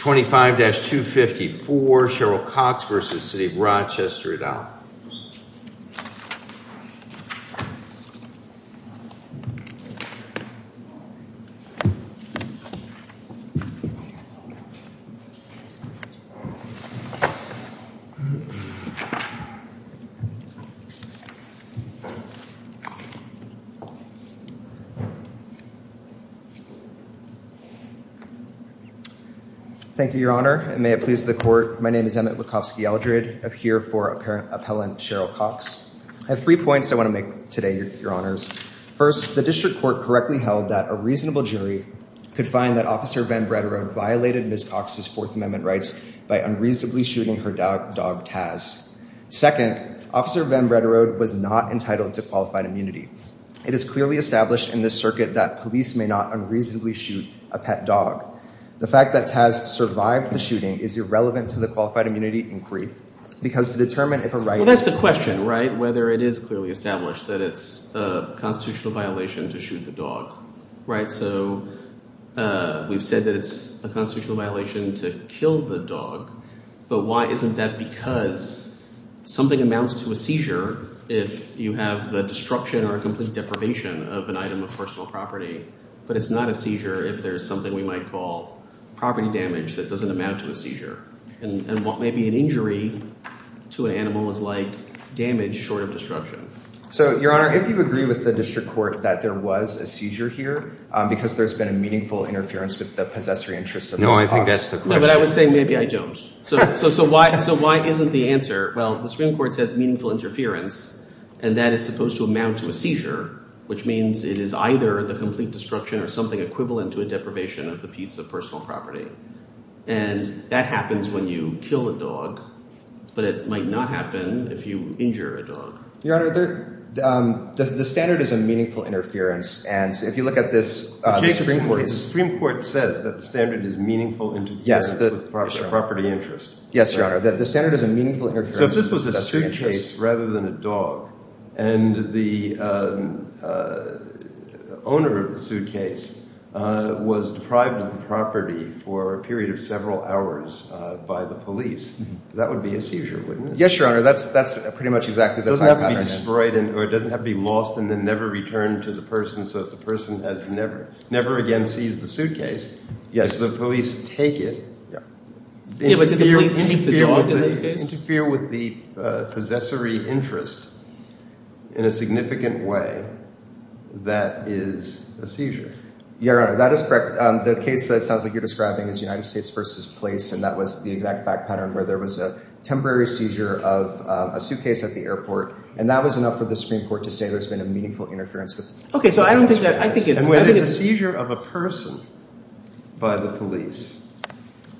25-254, Cheryl Cox v. City of Rochester et al. Thank you, Your Honor, and may it please the court. My name is Emmett Wachowski-Eldred. I'm here for Appellant Cheryl Cox. I have three points I want to make today, Your Honors. First, the District Court correctly held that a reasonable jury could find that Officer Van Breda Road violated Ms. Cox's Fourth Amendment rights by unreasonably shooting her dog, Taz. Second, Officer Van Breda Road was not entitled to qualified immunity. It is clearly established in this circuit that police may not unreasonably shoot a pet dog. The fact that Taz survived the shooting is irrelevant to the qualified immunity inquiry because to determine if a right... Well, that's the question, right, whether it is clearly established that it's a constitutional violation to shoot the dog. Right, so we've said that it's a constitutional violation to kill the dog, but why isn't that because something amounts to a seizure if you have the destruction or a complete deprivation of an item of personal property, but it's not a seizure if there's something we might call property damage that doesn't amount to a seizure. And what may be an injury to an animal is like damage short of destruction. So, Your Honor, if you agree with the District Court that there was a seizure here because there's been a meaningful interference with the possessory interests of Ms. Cox... No, I think that's the question. No, but I would say maybe I don't. So why isn't the answer, well, the Supreme Court says meaningful interference, and that is supposed to amount to a seizure, which means it is either the complete destruction or something equivalent to a deprivation of the piece of personal property. And that happens when you kill a dog, but it might not happen if you injure a dog. Your Honor, the standard is a meaningful interference, and if you look at this, the Supreme Court... The Supreme Court says that the standard is meaningful interference with property interests. Yes, Your Honor. The standard is a meaningful interference with possessory interests. So if this was a suitcase rather than a dog, and the owner of the suitcase was deprived of the property for a period of several hours by the police, that would be a seizure, wouldn't it? Yes, Your Honor. That's pretty much exactly the pattern. It doesn't have to be destroyed or it doesn't have to be lost and then never returned to the person. So if the person has never again seized the suitcase, yes, the police take it. Yeah, but did the police take the dog in this case? Interfere with the possessory interest in a significant way, that is a seizure. Your Honor, that is correct. The case that sounds like you're describing is United States v. Police, and that was the exact back pattern where there was a temporary seizure of a suitcase at the airport, and that was enough for the Supreme Court to say there's been a meaningful interference with possessory interests. Okay, so I don't think that – I think it's... And when it's a seizure of a person by the police,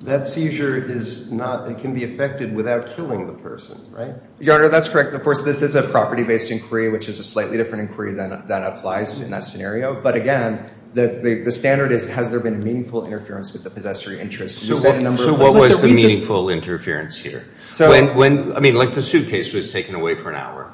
that seizure is not – it can be effected without killing the person, right? Your Honor, that's correct. Of course, this is a property-based inquiry, which is a slightly different inquiry than applies in that scenario. But again, the standard is has there been a meaningful interference with the possessory interest. So what was the meaningful interference here? I mean, like the suitcase was taken away for an hour.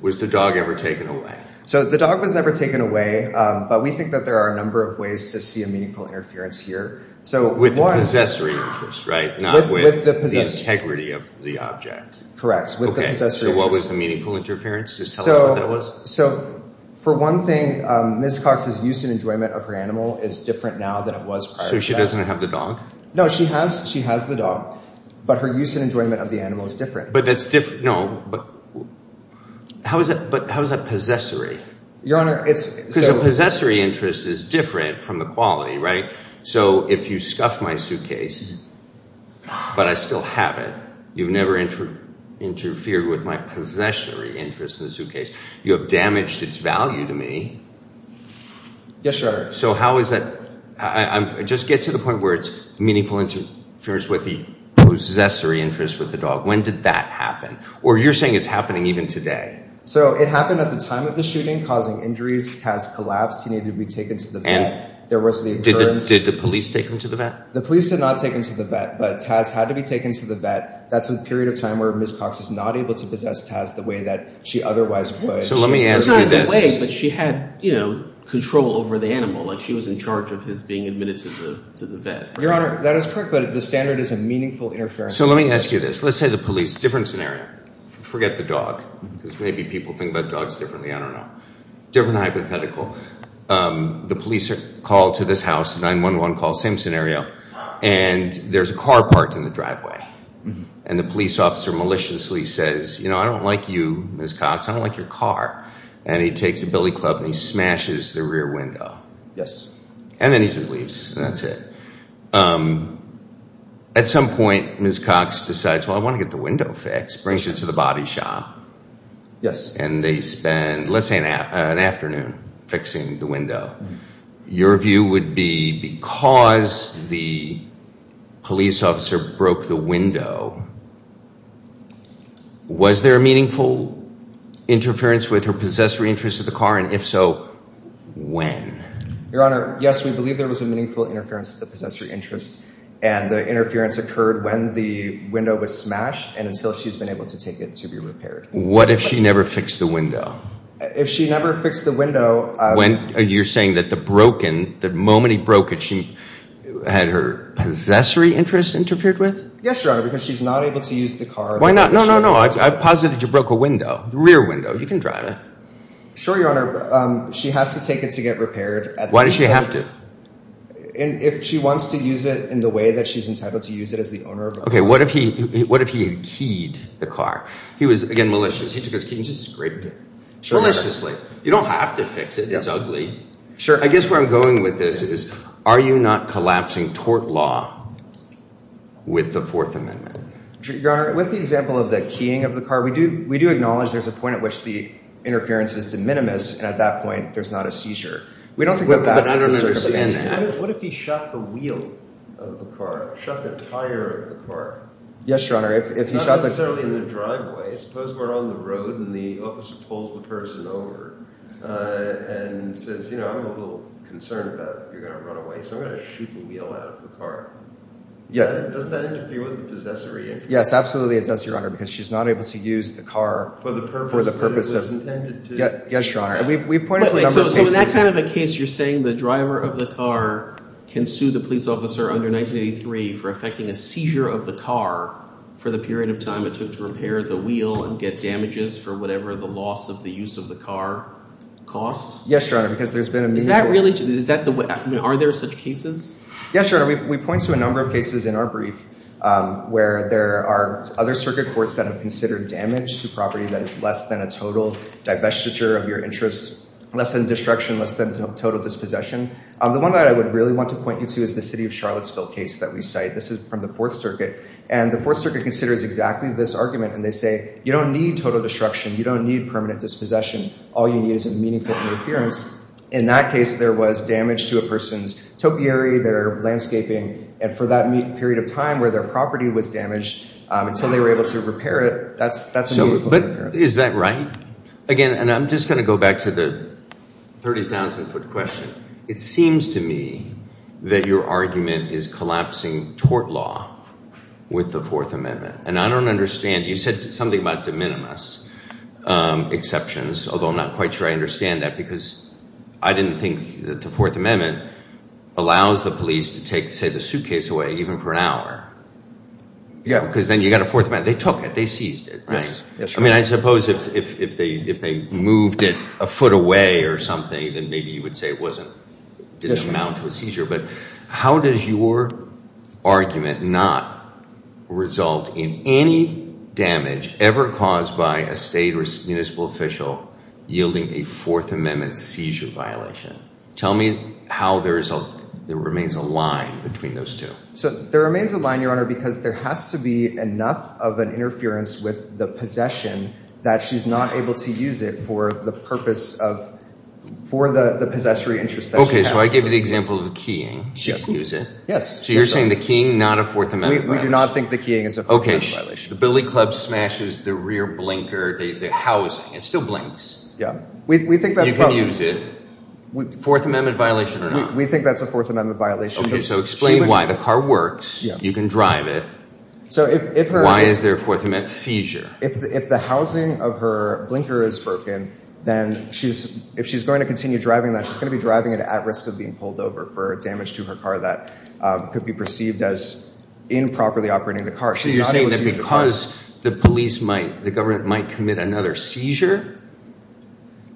Was the dog ever taken away? So the dog was never taken away, but we think that there are a number of ways to see a meaningful interference here. With the possessory interest, right, not with the integrity of the object. Correct, with the possessory interest. Okay, so what was the meaningful interference? Just tell us what that was. So for one thing, Ms. Cox's use and enjoyment of her animal is different now than it was prior to that. So she doesn't have the dog? No, she has the dog, but her use and enjoyment of the animal is different. But that's – no, but how is that possessory? Your Honor, it's – Because a possessory interest is different from the quality, right? So if you scuff my suitcase, but I still have it, you've never interfered with my possessory interest in the suitcase. You have damaged its value to me. Yes, Your Honor. So how is that – just get to the point where it's meaningful interference with the possessory interest with the dog. When did that happen? Or you're saying it's happening even today. So it happened at the time of the shooting, causing injuries, it has collapsed, he needed to be taken to the vet. Did the police take him to the vet? The police did not take him to the vet, but Taz had to be taken to the vet. That's a period of time where Ms. Cox is not able to possess Taz the way that she otherwise would. So let me ask you this. It's not in the way, but she had control over the animal. Like she was in charge of his being admitted to the vet. Your Honor, that is correct, but the standard is a meaningful interference. So let me ask you this. Let's say the police – different scenario. Forget the dog because maybe people think about dogs differently. I don't know. Different hypothetical. The police are called to this house, 911 call, same scenario, and there's a car parked in the driveway. And the police officer maliciously says, you know, I don't like you, Ms. Cox, I don't like your car. And he takes a billy club and he smashes the rear window. Yes. And then he just leaves and that's it. At some point, Ms. Cox decides, well, I want to get the window fixed, brings her to the body shop. Yes. And they spend, let's say, an afternoon fixing the window. Your view would be because the police officer broke the window, was there a meaningful interference with her possessory interest of the car? And if so, when? Your Honor, yes, we believe there was a meaningful interference with the possessory interest. And the interference occurred when the window was smashed and until she's been able to take it to be repaired. What if she never fixed the window? If she never fixed the window. You're saying that the broken, the moment he broke it, she had her possessory interest interfered with? Yes, Your Honor, because she's not able to use the car. Why not? No, no, no, I've posited you broke a window, rear window, you can drive it. Sure, Your Honor, she has to take it to get repaired. Why does she have to? If she wants to use it in the way that she's entitled to use it as the owner of the car. Okay, what if he had keyed the car? He was, again, malicious, he took his key and just scraped it. Maliciously. You don't have to fix it, it's ugly. Sure, I guess where I'm going with this is, are you not collapsing tort law with the Fourth Amendment? Your Honor, with the example of the keying of the car, we do acknowledge there's a point at which the interference is de minimis, and at that point there's not a seizure. We don't think that that's the circumstance. What if he shot the wheel of the car, shot the tire of the car? Yes, Your Honor, if he shot the car. If I was out in the driveway, suppose we're on the road and the officer pulls the person over and says, you know, I'm a little concerned about if you're going to run away, so I'm going to shoot the wheel out of the car. Doesn't that interfere with the possessory interference? Yes, absolutely it does, Your Honor, because she's not able to use the car for the purpose of— For the purpose that it was intended to. Yes, Your Honor, and we've pointed to a number of cases— So in that kind of a case, you're saying the driver of the car can sue the police officer under 1983 for affecting a seizure of the car for the period of time it took to repair the wheel and get damages for whatever the loss of the use of the car cost? Yes, Your Honor, because there's been a— Is that really—are there such cases? Yes, Your Honor, we point to a number of cases in our brief where there are other circuit courts that have considered damage to property that is less than a total divestiture of your interest, less than destruction, less than total dispossession. The one that I would really want to point you to is the city of Charlottesville case that we cite. This is from the Fourth Circuit, and the Fourth Circuit considers exactly this argument, and they say you don't need total destruction. You don't need permanent dispossession. All you need is a meaningful interference. In that case, there was damage to a person's topiary, their landscaping, and for that period of time where their property was damaged until they were able to repair it, that's a meaningful interference. But is that right? Again, and I'm just going to go back to the 30,000-foot question. It seems to me that your argument is collapsing tort law with the Fourth Amendment, and I don't understand. You said something about de minimis exceptions, although I'm not quite sure I understand that because I didn't think that the Fourth Amendment allows the police to take, say, the suitcase away even for an hour because then you've got a Fourth Amendment. They took it. They seized it, right? Yes. I mean, I suppose if they moved it a foot away or something, then maybe you would say it didn't amount to a seizure. But how does your argument not result in any damage ever caused by a state or municipal official yielding a Fourth Amendment seizure violation? Tell me how there remains a line between those two. So there remains a line, Your Honor, because there has to be enough of an interference with the possession that she's not able to use it for the purpose of, for the possessory interest that she has. Okay. So I give you the example of the keying. She can use it. Yes. So you're saying the keying, not a Fourth Amendment violation? We do not think the keying is a Fourth Amendment violation. Okay. The billy club smashes the rear blinker, the housing. It still blinks. Yeah. We think that's probably. You can use it. Fourth Amendment violation or not? We think that's a Fourth Amendment violation. Okay. So explain why. The car works. You can drive it. Why is there a Fourth Amendment seizure? If the housing of her blinker is broken, then if she's going to continue driving that, she's going to be driving it at risk of being pulled over for damage to her car that could be perceived as improperly operating the car. So you're saying that because the police might, the government might commit another seizure?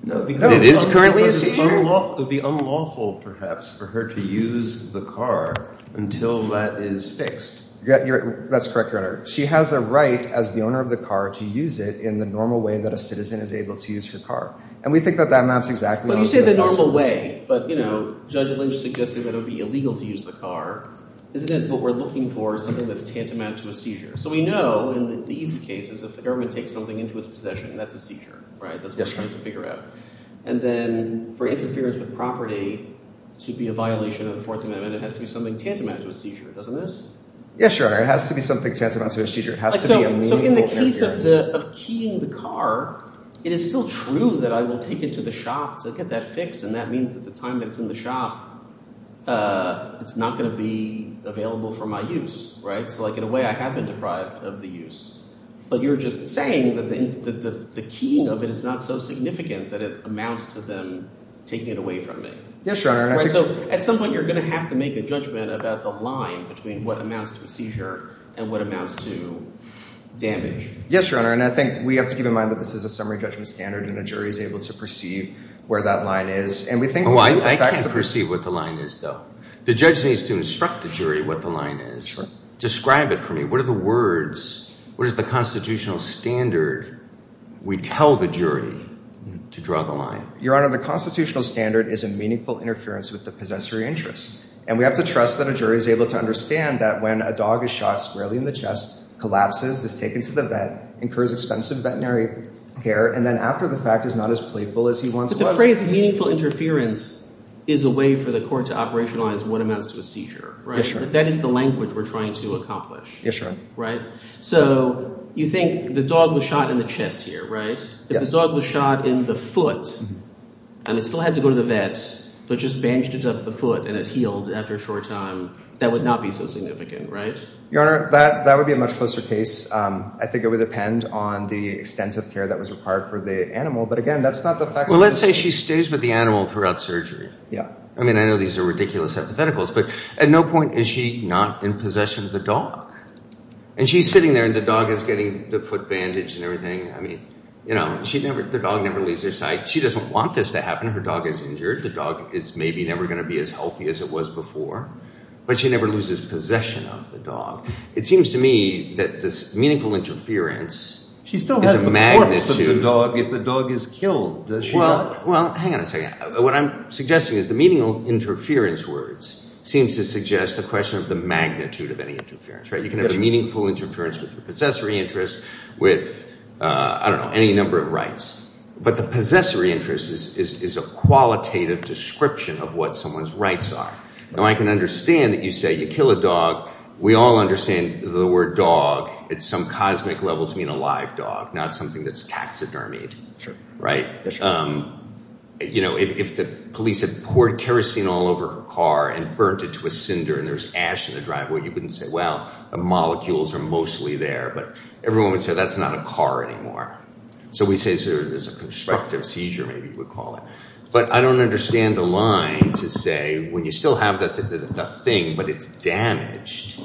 No. It is currently a seizure? It would be unlawful, perhaps, for her to use the car until that is fixed. That's correct, Your Honor. She has a right as the owner of the car to use it in the normal way that a citizen is able to use her car. And we think that that maps exactly. When you say the normal way, but, you know, Judge Lynch suggested that it would be illegal to use the car. Isn't it what we're looking for, something that's tantamount to a seizure? So we know in the easy cases, if the government takes something into its possession, that's a seizure, right? That's what we're trying to figure out. And then for interference with property to be a violation of the Fourth Amendment, it has to be something tantamount to a seizure, doesn't it? Yes, Your Honor. It has to be something tantamount to a seizure. It has to be a meaningful interference. So in the case of keying the car, it is still true that I will take it to the shop to get that fixed, and that means that the time that it's in the shop, it's not going to be available for my use, right? So, like, in a way, I have been deprived of the use. But you're just saying that the keying of it is not so significant that it amounts to them taking it away from me. Yes, Your Honor. So at some point, you're going to have to make a judgment about the line between what amounts to a seizure and what amounts to damage. Yes, Your Honor. And I think we have to keep in mind that this is a summary judgment standard, and a jury is able to perceive where that line is. And we think— I can't perceive what the line is, though. The judge needs to instruct the jury what the line is. Describe it for me. What are the words—what is the constitutional standard we tell the jury to draw the line? Your Honor, the constitutional standard is a meaningful interference with the possessory interest. And we have to trust that a jury is able to understand that when a dog is shot squarely in the chest, collapses, is taken to the vet, incurs expensive veterinary care, and then after the fact is not as playful as he once was. But the phrase meaningful interference is a way for the court to operationalize what amounts to a seizure, right? Yes, Your Honor. That is the language we're trying to accomplish. Yes, Your Honor. Right? So you think the dog was shot in the chest here, right? Yes. And if the dog was shot in the foot, and it still had to go to the vet, but just bandaged it up with a foot and it healed after a short time, that would not be so significant, right? Your Honor, that would be a much closer case. I think it would depend on the extensive care that was required for the animal. But again, that's not the fact— Well, let's say she stays with the animal throughout surgery. Yeah. I mean, I know these are ridiculous hypotheticals, but at no point is she not in possession of the dog. And she's sitting there, and the dog is getting the foot bandaged and everything. I mean, the dog never leaves her side. She doesn't want this to happen. Her dog is injured. The dog is maybe never going to be as healthy as it was before. But she never loses possession of the dog. It seems to me that this meaningful interference is a magnitude— She still has the importance of the dog if the dog is killed, does she not? Well, hang on a second. What I'm suggesting is the meaning of interference words seems to suggest the question of the magnitude of any interference, right? You can have a meaningful interference with a possessory interest, with, I don't know, any number of rights. But the possessory interest is a qualitative description of what someone's rights are. Now, I can understand that you say you kill a dog. We all understand the word dog at some cosmic level to mean a live dog, not something that's taxidermied, right? You know, if the police had poured kerosene all over her car and burnt it to a cinder and there was ash in the driveway, you wouldn't say, well, the molecules are mostly there. But everyone would say, that's not a car anymore. So we say there's a constructive seizure, maybe you would call it. But I don't understand the line to say when you still have the thing but it's damaged,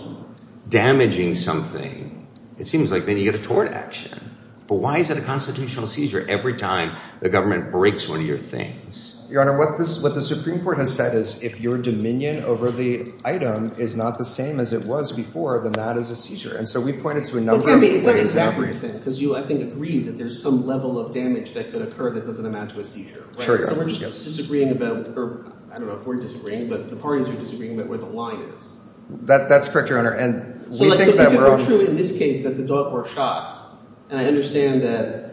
damaging something, it seems like then you get a tort action. But why is it a constitutional seizure every time the government breaks one of your things? Your Honor, what the Supreme Court has said is if your dominion over the item is not the same as it was before, then that is a seizure. And so we point it to a number of ways. It's like a Zachary thing because you, I think, agreed that there's some level of damage that could occur that doesn't amount to a seizure. So we're just disagreeing about – or I don't know if we're disagreeing, but the parties are disagreeing about where the line is. That's correct, Your Honor. And we think that we're – So if it were true in this case that the dog were shot, and I understand that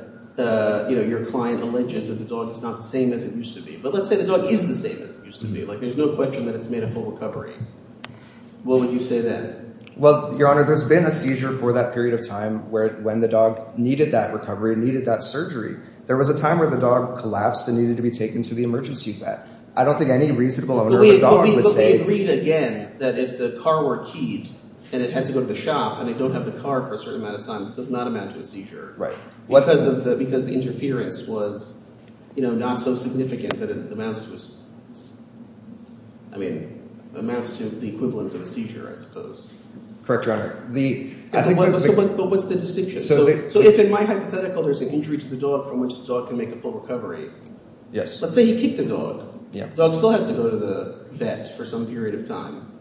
your client alleges that the dog is not the same as it used to be. But let's say the dog is the same as it used to be. Like there's no question that it's made a full recovery. What would you say then? Well, Your Honor, there's been a seizure for that period of time when the dog needed that recovery, needed that surgery. There was a time where the dog collapsed and needed to be taken to the emergency vet. I don't think any reasonable owner of a dog would say – But we agreed again that if the car were keyed and it had to go to the shop and they don't have the car for a certain amount of time, it does not amount to a seizure. Right. Because the interference was not so significant that it amounts to a – I mean amounts to the equivalent of a seizure I suppose. Correct, Your Honor. But what's the distinction? So if in my hypothetical there's an injury to the dog from which the dog can make a full recovery, let's say he kicked the dog. The dog still has to go to the vet for some period of time.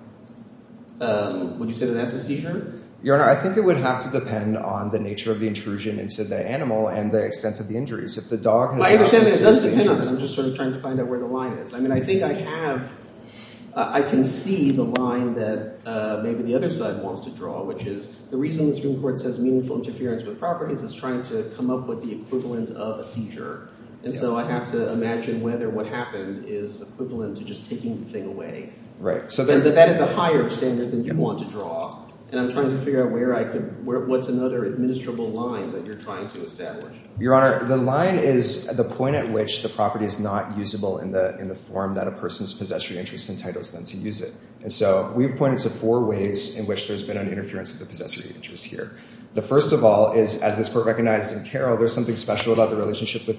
Would you say that that's a seizure? Your Honor, I think it would have to depend on the nature of the intrusion into the animal and the extent of the injuries. If the dog has – I understand that it does depend on it. I'm just sort of trying to find out where the line is. I mean I think I have – I can see the line that maybe the other side wants to draw, which is the reason the Supreme Court says meaningful interference with properties is trying to come up with the equivalent of a seizure. And so I have to imagine whether what happened is equivalent to just taking the thing away. Right. And that is a higher standard than you want to draw. And I'm trying to figure out where I could – what's another administrable line that you're trying to establish? Your Honor, the line is the point at which the property is not usable in the form that a person's possessory interest entitles them to use it. And so we've pointed to four ways in which there's been an interference with the possessory interest here. The first of all is, as this Court recognized in Carroll, there's something special about the relationship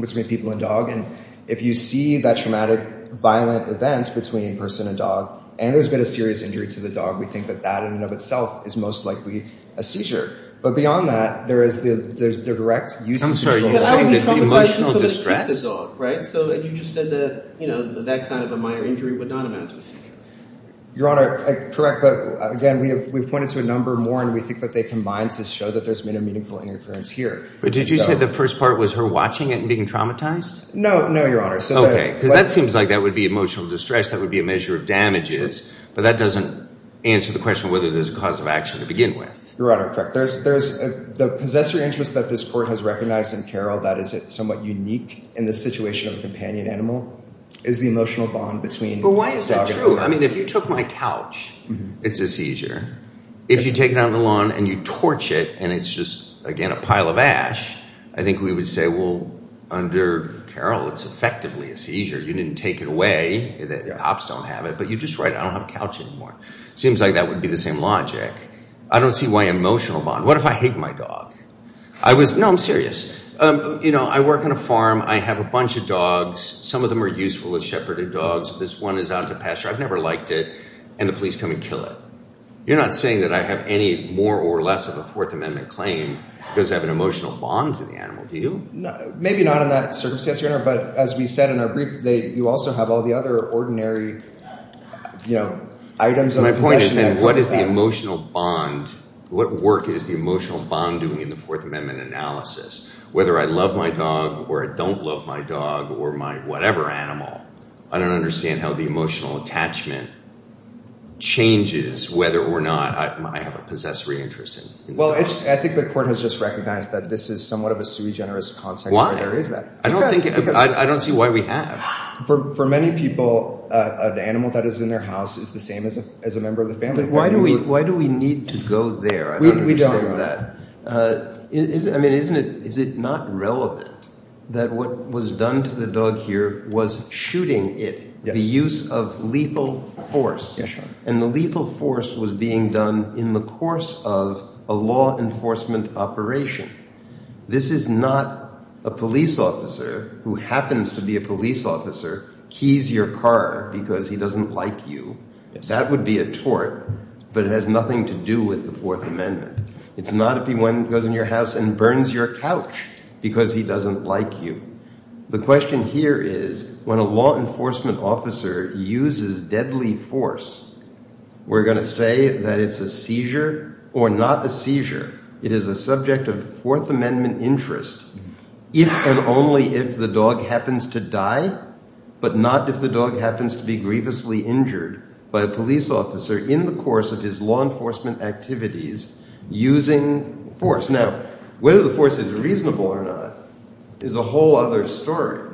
between people and dog. And if you see that traumatic, violent event between person and dog and there's been a serious injury to the dog, we think that that in and of itself is most likely a seizure. But beyond that, there is the direct use of – I'm sorry. You said that the emotional distress – Because I would be traumatized just to keep the dog, right? So you just said that that kind of a minor injury would not amount to a seizure. Your Honor, correct. But again, we've pointed to a number more, and we think that they combine to show that there's been a meaningful interference here. But did you say the first part was her watching it and being traumatized? No, no, Your Honor. Okay. Because that seems like that would be emotional distress. That would be a measure of damages. But that doesn't answer the question of whether there's a cause of action to begin with. Your Honor, correct. The possessory interest that this Court has recognized in Carroll that is somewhat unique in the situation of a companion animal is the emotional bond between dog and person. But why is that true? I mean, if you took my couch, it's a seizure. If you take it out on the lawn and you torch it and it's just, again, a pile of ash, I think we would say, well, under Carroll, it's effectively a seizure. You didn't take it away. The cops don't have it. But you just write, I don't have a couch anymore. It seems like that would be the same logic. I don't see why emotional bond. What if I hate my dog? No, I'm serious. You know, I work on a farm. I have a bunch of dogs. Some of them are useful as shepherded dogs. This one is out to pasture. I've never liked it. And the police come and kill it. You're not saying that I have any more or less of a Fourth Amendment claim because I have an emotional bond to the animal, do you? Maybe not in that circumstance, Your Honor. But as we said in our brief, you also have all the other ordinary items of possession. My point is then what is the emotional bond, what work is the emotional bond doing in the Fourth Amendment analysis? Whether I love my dog or I don't love my dog or my whatever animal, I don't understand how the emotional attachment changes whether or not I have a possessory interest. Well, I think the court has just recognized that this is somewhat of a sui generis context. Why? Why is that? I don't see why we have. For many people, an animal that is in their house is the same as a member of the family. Why do we need to go there? I don't understand that. We don't, Your Honor. I mean, is it not relevant that what was done to the dog here was shooting it? Yes. The use of lethal force. Yes, Your Honor. And the lethal force was being done in the course of a law enforcement operation. This is not a police officer who happens to be a police officer, keys your car because he doesn't like you. That would be a tort, but it has nothing to do with the Fourth Amendment. It's not if he goes in your house and burns your couch because he doesn't like you. The question here is when a law enforcement officer uses deadly force, we're going to say that it's a seizure or not a seizure. It is a subject of Fourth Amendment interest if and only if the dog happens to die, but not if the dog happens to be grievously injured by a police officer in the course of his law enforcement activities using force. Now, whether the force is reasonable or not is a whole other story,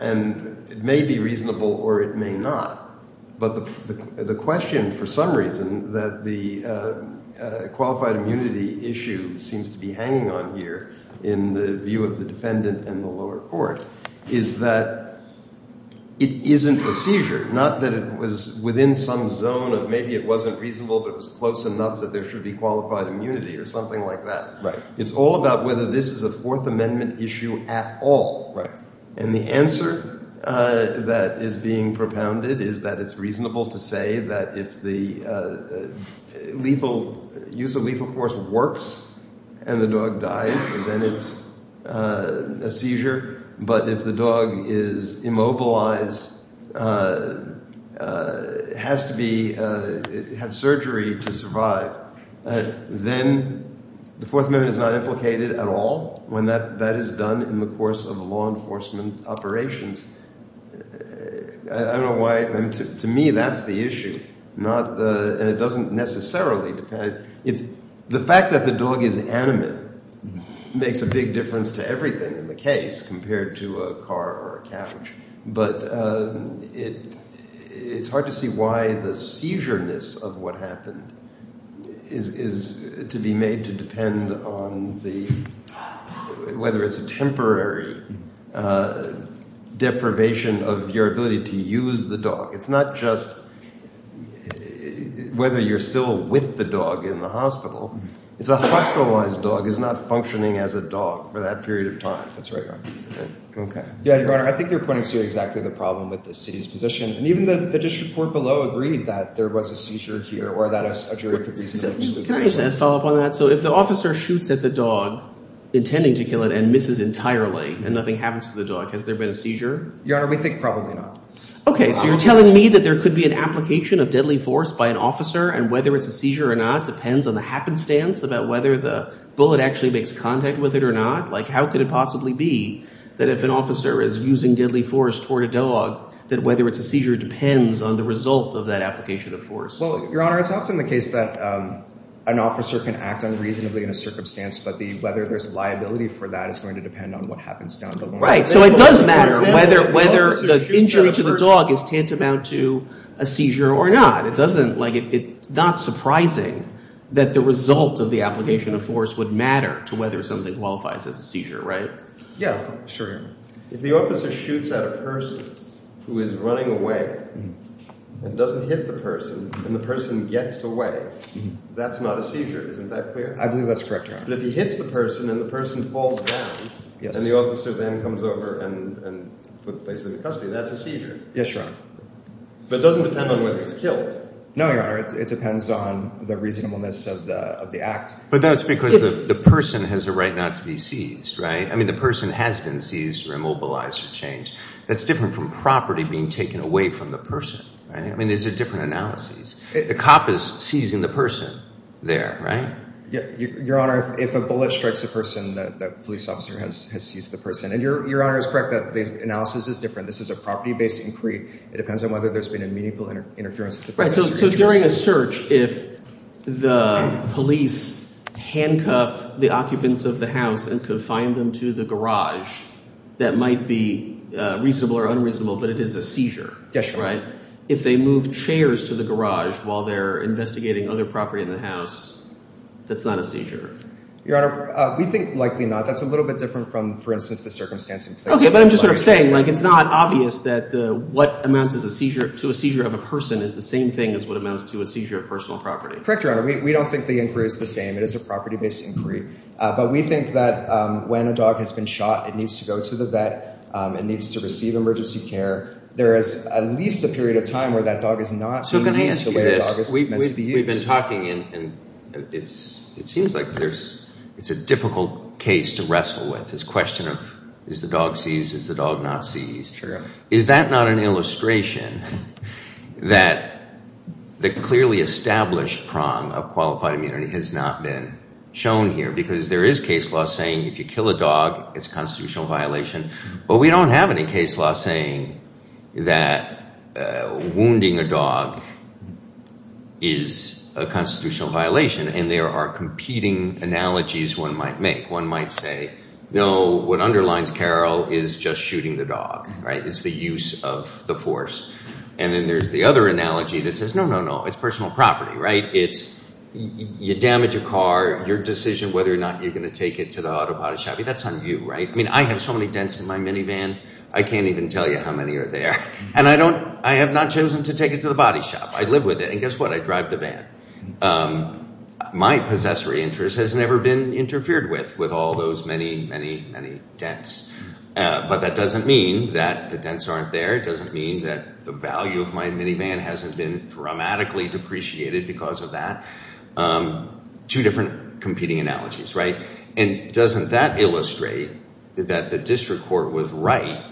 and it may be reasonable or it may not. But the question for some reason that the qualified immunity issue seems to be hanging on here in the view of the defendant and the lower court is that it isn't a seizure, not that it was within some zone of maybe it wasn't reasonable, but it was close enough that there should be qualified immunity or something like that. It's all about whether this is a Fourth Amendment issue at all. And the answer that is being propounded is that it's reasonable to say that if the lethal – use of lethal force works and the dog dies, then it's a seizure. But if the dog is immobilized, has to be – had surgery to survive, then the Fourth Amendment is not implicated at all when that is done in the course of law enforcement operations. I don't know why – to me, that's the issue, not – and it doesn't necessarily depend – the fact that the dog is animate makes a big difference to everything in the case compared to a car or a couch. But it's hard to see why the seizureness of what happened is to be made to depend on the – whether it's a temporary deprivation of your ability to use the dog. It's not just whether you're still with the dog in the hospital. It's a hospitalized dog is not functioning as a dog for that period of time. That's right, Your Honor. OK. Yeah, Your Honor, I think you're pointing to exactly the problem with the city's position. And even the district court below agreed that there was a seizure here or that a jury could reasonably – Can I just follow up on that? So if the officer shoots at the dog intending to kill it and misses entirely and nothing happens to the dog, has there been a seizure? Your Honor, we think probably not. OK. So you're telling me that there could be an application of deadly force by an officer and whether it's a seizure or not depends on the happenstance about whether the bullet actually makes contact with it or not? Like how could it possibly be that if an officer is using deadly force toward a dog, that whether it's a seizure depends on the result of that application of force? Well, Your Honor, it's often the case that an officer can act unreasonably in a circumstance, but whether there's liability for that is going to depend on what happens down the line. Right. So it does matter whether the injury to the dog is tantamount to a seizure or not. It doesn't – like it's not surprising that the result of the application of force would matter to whether something qualifies as a seizure, right? Yeah. Sure, Your Honor. If the officer shoots at a person who is running away and doesn't hit the person and the person gets away, that's not a seizure. Isn't that clear? I believe that's correct, Your Honor. But if he hits the person and the person falls down and the officer then comes over and puts the person in custody, that's a seizure. Yes, Your Honor. But it doesn't depend on whether he's killed. No, Your Honor. It depends on the reasonableness of the act. But that's because the person has a right not to be seized, right? I mean the person has been seized or immobilized or changed. That's different from property being taken away from the person, right? I mean these are different analyses. The cop is seizing the person there, right? Your Honor, if a bullet strikes a person, the police officer has seized the person. And Your Honor is correct that the analysis is different. This is a property-based inquiry. It depends on whether there's been a meaningful interference. So during a search, if the police handcuff the occupants of the house and confine them to the garage, that might be reasonable or unreasonable, but it is a seizure, right? Yes, Your Honor. If they move chairs to the garage while they're investigating other property in the house, that's not a seizure. Your Honor, we think likely not. That's a little bit different from, for instance, the circumstances. Okay, but I'm just sort of saying like it's not obvious that what amounts to a seizure of a person is the same thing as what amounts to a seizure of personal property. Correct, Your Honor. We don't think the inquiry is the same. It is a property-based inquiry. But we think that when a dog has been shot, it needs to go to the vet. It needs to receive emergency care. There is at least a period of time where that dog is not being used the way a dog is meant to be used. So can I ask you this? We've been talking and it seems like it's a difficult case to wrestle with. This question of is the dog seized, is the dog not seized? Sure. Is that not an illustration that the clearly established prong of qualified immunity has not been shown here? Because there is case law saying if you kill a dog, it's a constitutional violation. But we don't have any case law saying that wounding a dog is a constitutional violation. And there are competing analogies one might make. One might say, no, what underlines Carroll is just shooting the dog. It's the use of the force. And then there's the other analogy that says, no, no, no, it's personal property. It's you damage a car, your decision whether or not you're going to take it to the auto body shop, that's on you. I mean, I have so many dents in my minivan, I can't even tell you how many are there. And I have not chosen to take it to the body shop. I live with it. And guess what? I drive the van. My possessory interest has never been interfered with, with all those many, many, many dents. But that doesn't mean that the dents aren't there. It doesn't mean that the value of my minivan hasn't been dramatically depreciated because of that. Two different competing analogies, right? And doesn't that illustrate that the district court was right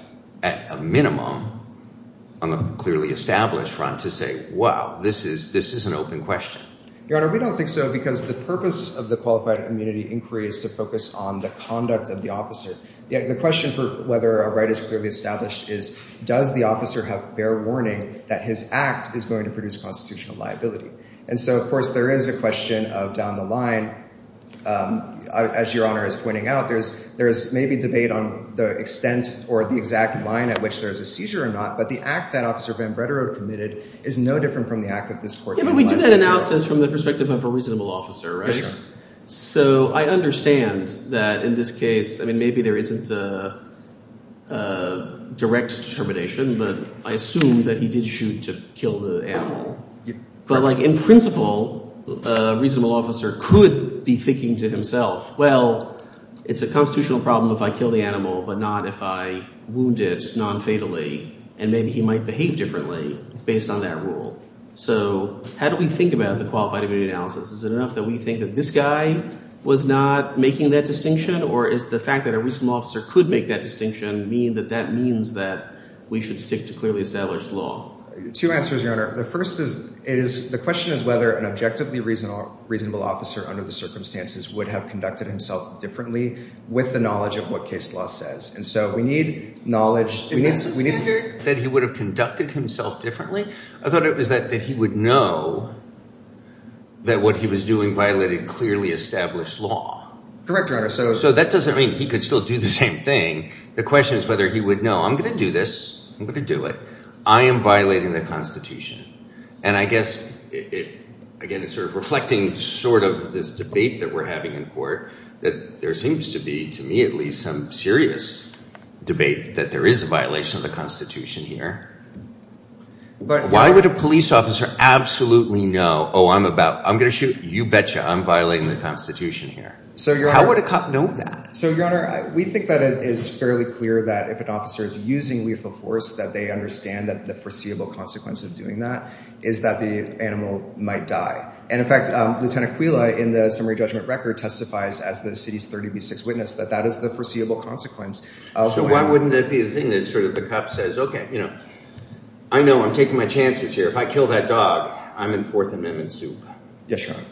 at a minimum on the clearly established front to say, wow, this is an open question? Your Honor, we don't think so because the purpose of the qualified immunity inquiry is to focus on the conduct of the officer. The question for whether a right is clearly established is, does the officer have fair warning that his act is going to produce constitutional liability? And so, of course, there is a question of down the line. As Your Honor is pointing out, there is maybe debate on the extent or the exact line at which there is a seizure or not. But the act that Officer Van Bredero committed is no different from the act that this court— Yeah, but we do that analysis from the perspective of a reasonable officer, right? So I understand that in this case, I mean, maybe there isn't a direct determination, but I assume that he did shoot to kill the animal. But like in principle, a reasonable officer could be thinking to himself, well, it's a constitutional problem if I kill the animal but not if I wound it nonfatally. And maybe he might behave differently based on that rule. So how do we think about the qualified immunity analysis? Is it enough that we think that this guy was not making that distinction? Or is the fact that a reasonable officer could make that distinction mean that that means that we should stick to clearly established law? Two answers, Your Honor. The first is the question is whether an objectively reasonable officer under the circumstances would have conducted himself differently with the knowledge of what case law says. And so we need knowledge. Is that the standard that he would have conducted himself differently? I thought it was that he would know that what he was doing violated clearly established law. Correct, Your Honor. So that doesn't mean he could still do the same thing. The question is whether he would know I'm going to do this. I'm going to do it. I am violating the Constitution. And I guess, again, it's sort of reflecting sort of this debate that we're having in court that there seems to be, to me at least, some serious debate that there is a violation of the Constitution here. But why would a police officer absolutely know, oh, I'm going to shoot? You betcha. I'm violating the Constitution here. How would a cop know that? So, Your Honor, we think that it is fairly clear that if an officer is using lethal force that they understand that the foreseeable consequence of doing that is that the animal might die. And, in fact, Lieutenant Quila in the summary judgment record testifies as the city's 30B6 witness that that is the foreseeable consequence. So why wouldn't that be the thing that sort of the cop says, OK, I know I'm taking my chances here. If I kill that dog, I'm in Fourth Amendment soup. Yes, Your Honor.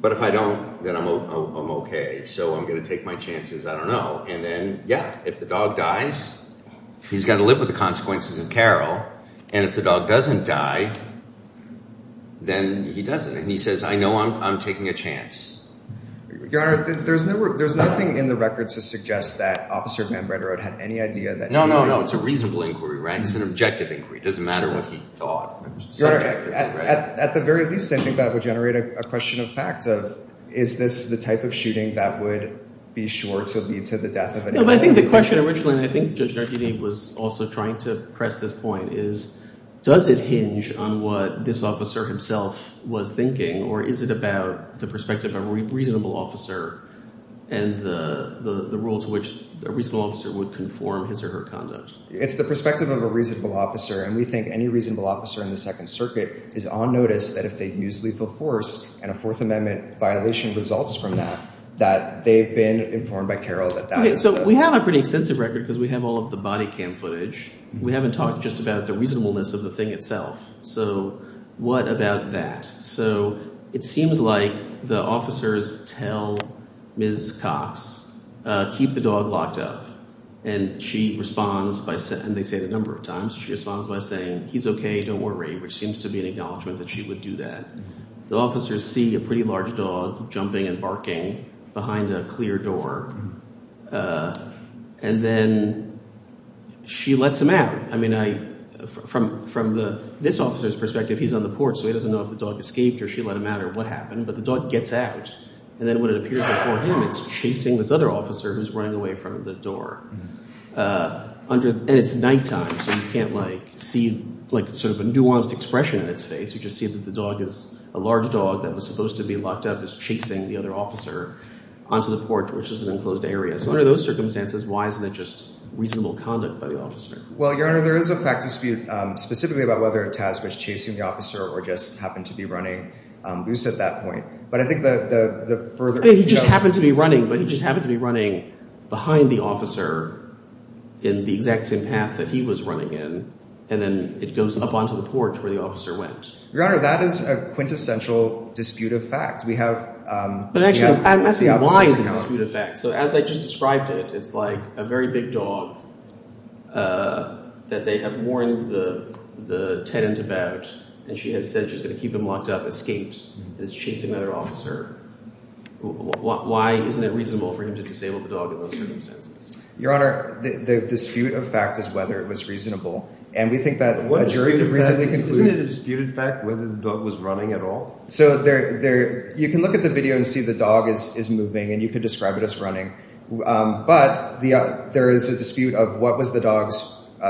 But if I don't, then I'm OK. So I'm going to take my chances. I don't know. And then, yeah, if the dog dies, he's got to live with the consequences in Carroll. And if the dog doesn't die, then he doesn't. And he says, I know I'm taking a chance. Your Honor, there's nothing in the record to suggest that Officer Van Bredero had any idea that he would. No, no, no. It's a reasonable inquiry. It's an objective inquiry. It doesn't matter what he thought. Your Honor, at the very least, I think that would generate a question of fact of is this the type of shooting that would be sure to lead to the death of an inmate? No, but I think the question originally, and I think Judge Jardini was also trying to press this point, is does it hinge on what this officer himself was thinking? Or is it about the perspective of a reasonable officer and the rules which a reasonable officer would conform his or her conduct? It's the perspective of a reasonable officer, and we think any reasonable officer in the Second Circuit is on notice that if they use lethal force and a Fourth Amendment violation results from that, that they've been informed by Carroll that that is the— Okay, so we have a pretty extensive record because we have all of the body cam footage. We haven't talked just about the reasonableness of the thing itself. So what about that? So it seems like the officers tell Ms. Cox, keep the dog locked up, and she responds by – and they say that a number of times. She responds by saying, he's okay. Don't worry, which seems to be an acknowledgment that she would do that. The officers see a pretty large dog jumping and barking behind a clear door, and then she lets him out. From this officer's perspective, he's on the porch, so he doesn't know if the dog escaped or she let him out or what happened. But the dog gets out, and then when it appears before him, it's chasing this other officer who's running away from the door. And it's nighttime, so you can't see sort of a nuanced expression on its face. You just see that the dog is – a large dog that was supposed to be locked up is chasing the other officer onto the porch, which is an enclosed area. So under those circumstances, why isn't it just reasonable conduct by the officer? Well, Your Honor, there is a fact dispute specifically about whether Taz was chasing the officer or just happened to be running loose at that point. But I think the further – He just happened to be running, but he just happened to be running behind the officer in the exact same path that he was running in. And then it goes up onto the porch where the officer went. Your Honor, that is a quintessential dispute of fact. We have – But actually, I'm asking why it's a dispute of fact. So as I just described it, it's like a very big dog that they have warned the tenant about, and she has said she's going to keep him locked up, escapes, is chasing another officer. Why isn't it reasonable for him to disable the dog in those circumstances? Your Honor, the dispute of fact is whether it was reasonable, and we think that a jury could reasonably conclude – Isn't it a disputed fact whether the dog was running at all? So you can look at the video and see the dog is moving, and you could describe it as running. But there is a dispute of what was the dog's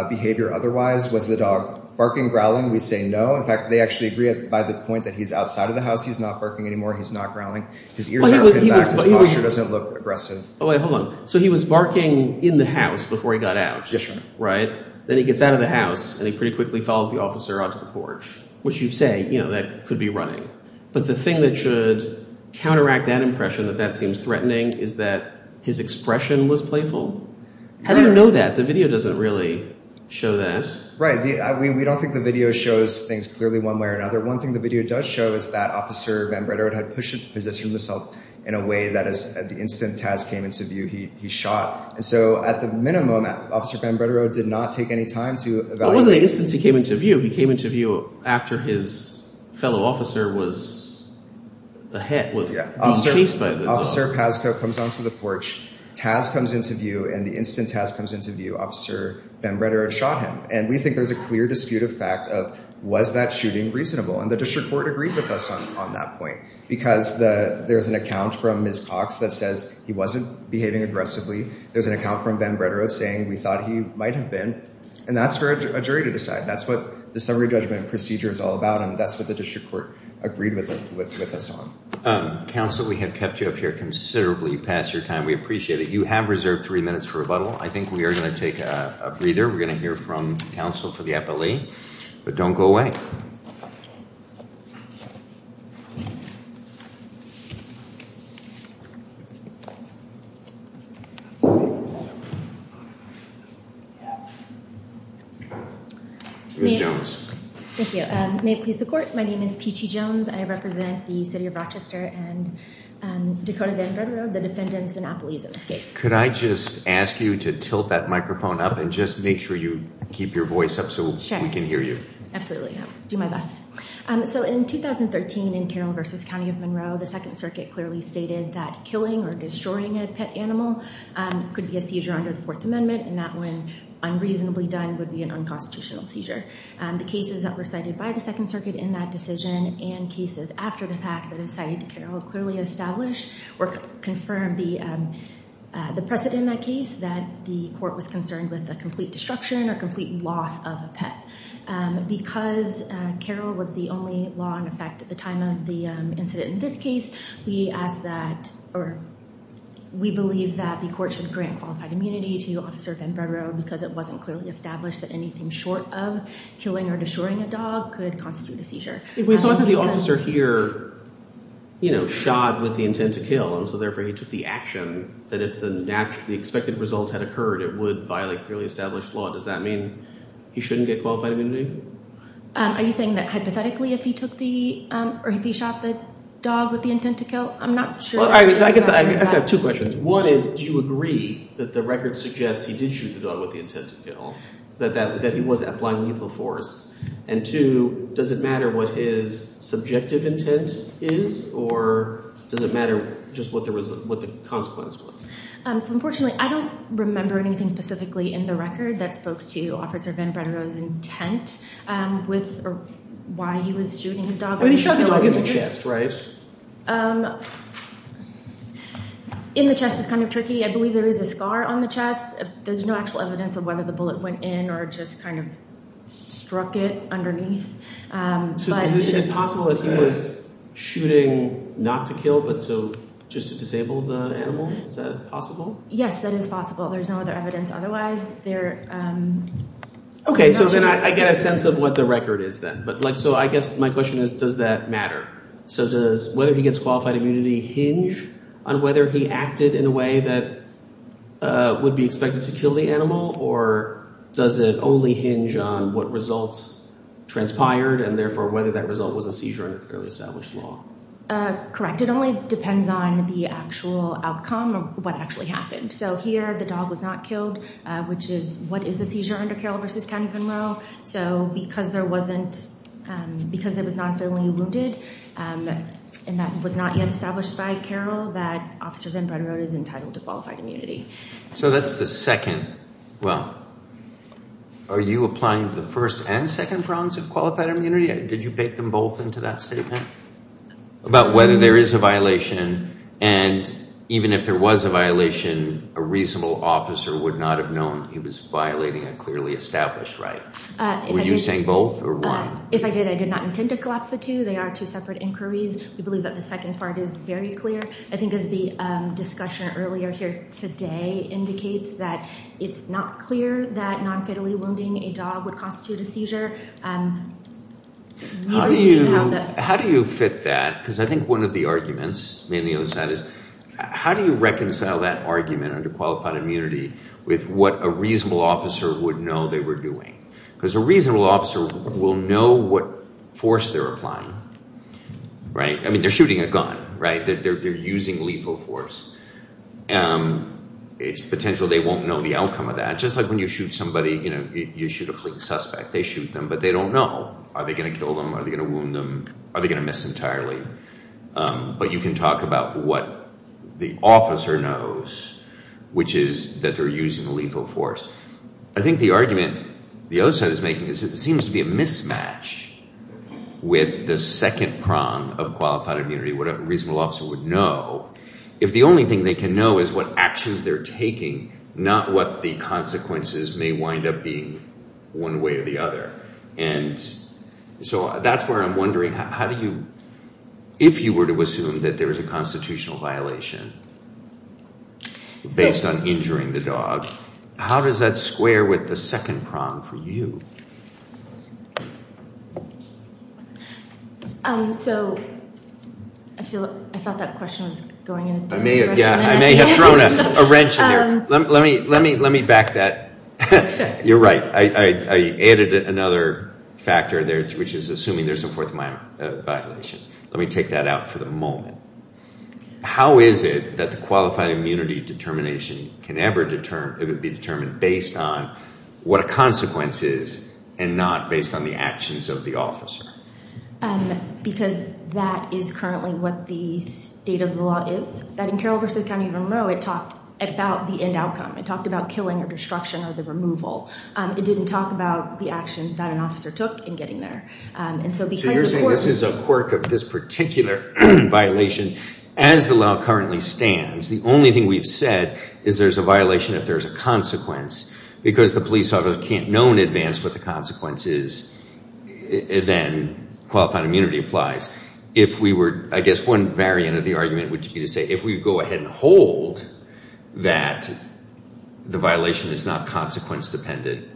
behavior otherwise. Was the dog barking, growling? We say no. In fact, they actually agree by the point that he's outside of the house. He's not barking anymore. He's not growling. His ears are pinned back. His posture doesn't look aggressive. Oh, wait. Hold on. So he was barking in the house before he got out. Yes, Your Honor. Right? Then he gets out of the house, and he pretty quickly follows the officer onto the porch, which you say, you know, that could be running. But the thing that should counteract that impression that that seems threatening is that his expression was playful. How do you know that? The video doesn't really show that. Right. We don't think the video shows things clearly one way or another. One thing the video does show is that Officer Van Bredero had positioned himself in a way that as the instant Taz came into view, he shot. And so at the minimum, Officer Van Bredero did not take any time to evaluate. It wasn't the instant he came into view. He came into view after his fellow officer was chased by the dog. Officer Pascoe comes onto the porch. Taz comes into view. And the instant Taz comes into view, Officer Van Bredero shot him. And we think there's a clear dispute of fact of was that shooting reasonable. And the district court agreed with us on that point. Because there's an account from Ms. Cox that says he wasn't behaving aggressively. There's an account from Van Bredero saying we thought he might have been. And that's for a jury to decide. That's what the summary judgment procedure is all about. And that's what the district court agreed with us on. Counsel, we have kept you up here considerably past your time. We appreciate it. You have reserved three minutes for rebuttal. I think we are going to take a breather. We're going to hear from counsel for the appellee. But don't go away. Thank you. Ms. Jones. Thank you. May it please the court. My name is Peachy Jones. I represent the city of Rochester and Dakota Van Bredero, the defendant's monopolies in this case. Could I just ask you to tilt that microphone up and just make sure you keep your voice up so we can hear you? Absolutely. I'll do my best. So in 2013 in Carroll v. County of Monroe, the Second Circuit clearly stated that killing or destroying a pet animal could be a seizure under the Fourth Amendment, and that when unreasonably done would be an unconstitutional seizure. The cases that were cited by the Second Circuit in that decision and cases after the fact that it was cited to Carroll clearly established or confirmed the precedent in that case that the court was concerned with a complete destruction or complete loss of a pet. Because Carroll was the only law in effect at the time of the incident in this case, we believe that the court should grant qualified immunity to Officer Van Bredero because it wasn't clearly established that anything short of killing or destroying a dog could constitute a seizure. We thought that the officer here shot with the intent to kill, and so therefore he took the action that if the expected result had occurred, it would violate clearly established law. Does that mean he shouldn't get qualified immunity? Are you saying that hypothetically if he took the – or if he shot the dog with the intent to kill? I'm not sure. I guess I have two questions. One is do you agree that the record suggests he did shoot the dog with the intent to kill, that he was applying lethal force? And two, does it matter what his subjective intent is, or does it matter just what the consequence was? Unfortunately, I don't remember anything specifically in the record that spoke to Officer Van Bredero's intent with why he was shooting his dog. He shot the dog in the chest, right? In the chest is kind of tricky. I believe there is a scar on the chest. There's no actual evidence of whether the bullet went in or just kind of struck it underneath. So is it possible that he was shooting not to kill but to – just to disable the animal? Is that possible? Yes, that is possible. There's no other evidence otherwise. Okay. So then I get a sense of what the record is then. But like – so I guess my question is does that matter? So does whether he gets qualified immunity hinge on whether he acted in a way that would be expected to kill the animal, or does it only hinge on what results transpired and therefore whether that result was a seizure under clearly established law? Correct. It only depends on the actual outcome of what actually happened. So here the dog was not killed, which is – what is a seizure under Carroll v. County Monroe? So because there wasn't – because it was not fairly wounded and that was not yet established by Carroll, that Officer Van Bredero is entitled to qualified immunity. So that's the second – well, are you applying the first and second grounds of qualified immunity? Did you bake them both into that statement about whether there is a violation and even if there was a violation, a reasonable officer would not have known he was violating a clearly established right? Were you saying both or one? If I did, I did not intend to collapse the two. They are two separate inquiries. We believe that the second part is very clear. I think as the discussion earlier here today indicates, that it's not clear that non-fatally wounding a dog would constitute a seizure. How do you fit that? Because I think one of the arguments is how do you reconcile that argument under qualified immunity with what a reasonable officer would know they were doing? Because a reasonable officer will know what force they're applying, right? I mean, they're shooting a gun, right? They're using lethal force. It's potential they won't know the outcome of that. Just like when you shoot somebody, you know, you shoot a fleet suspect. They shoot them, but they don't know. Are they going to kill them? Are they going to wound them? Are they going to miss entirely? But you can talk about what the officer knows, which is that they're using lethal force. I think the argument the other side is making is it seems to be a mismatch with the second prong of qualified immunity, what a reasonable officer would know, if the only thing they can know is what actions they're taking, not what the consequences may wind up being one way or the other. And so that's where I'm wondering how do you, if you were to assume that there was a constitutional violation based on injuring the dog, how does that square with the second prong for you? So I feel like I thought that question was going in a different direction. Yeah, I may have thrown a wrench in there. Let me back that. You're right. I added another factor there, which is assuming there's a fourth violation. Let me take that out for the moment. How is it that the qualified immunity determination can ever be determined based on what a consequence is and not based on the actions of the officer? Because that is currently what the state of the law is. In Carroll versus County of Monroe, it talked about the end outcome. It talked about killing or destruction or the removal. It didn't talk about the actions that an officer took in getting there. So you're saying this is a quirk of this particular violation as the law currently stands. The only thing we've said is there's a violation if there's a consequence because the police officer can't know in advance what the consequence is, then qualified immunity applies. If we were, I guess one variant of the argument would be to say if we go ahead and hold that the violation is not consequence dependent,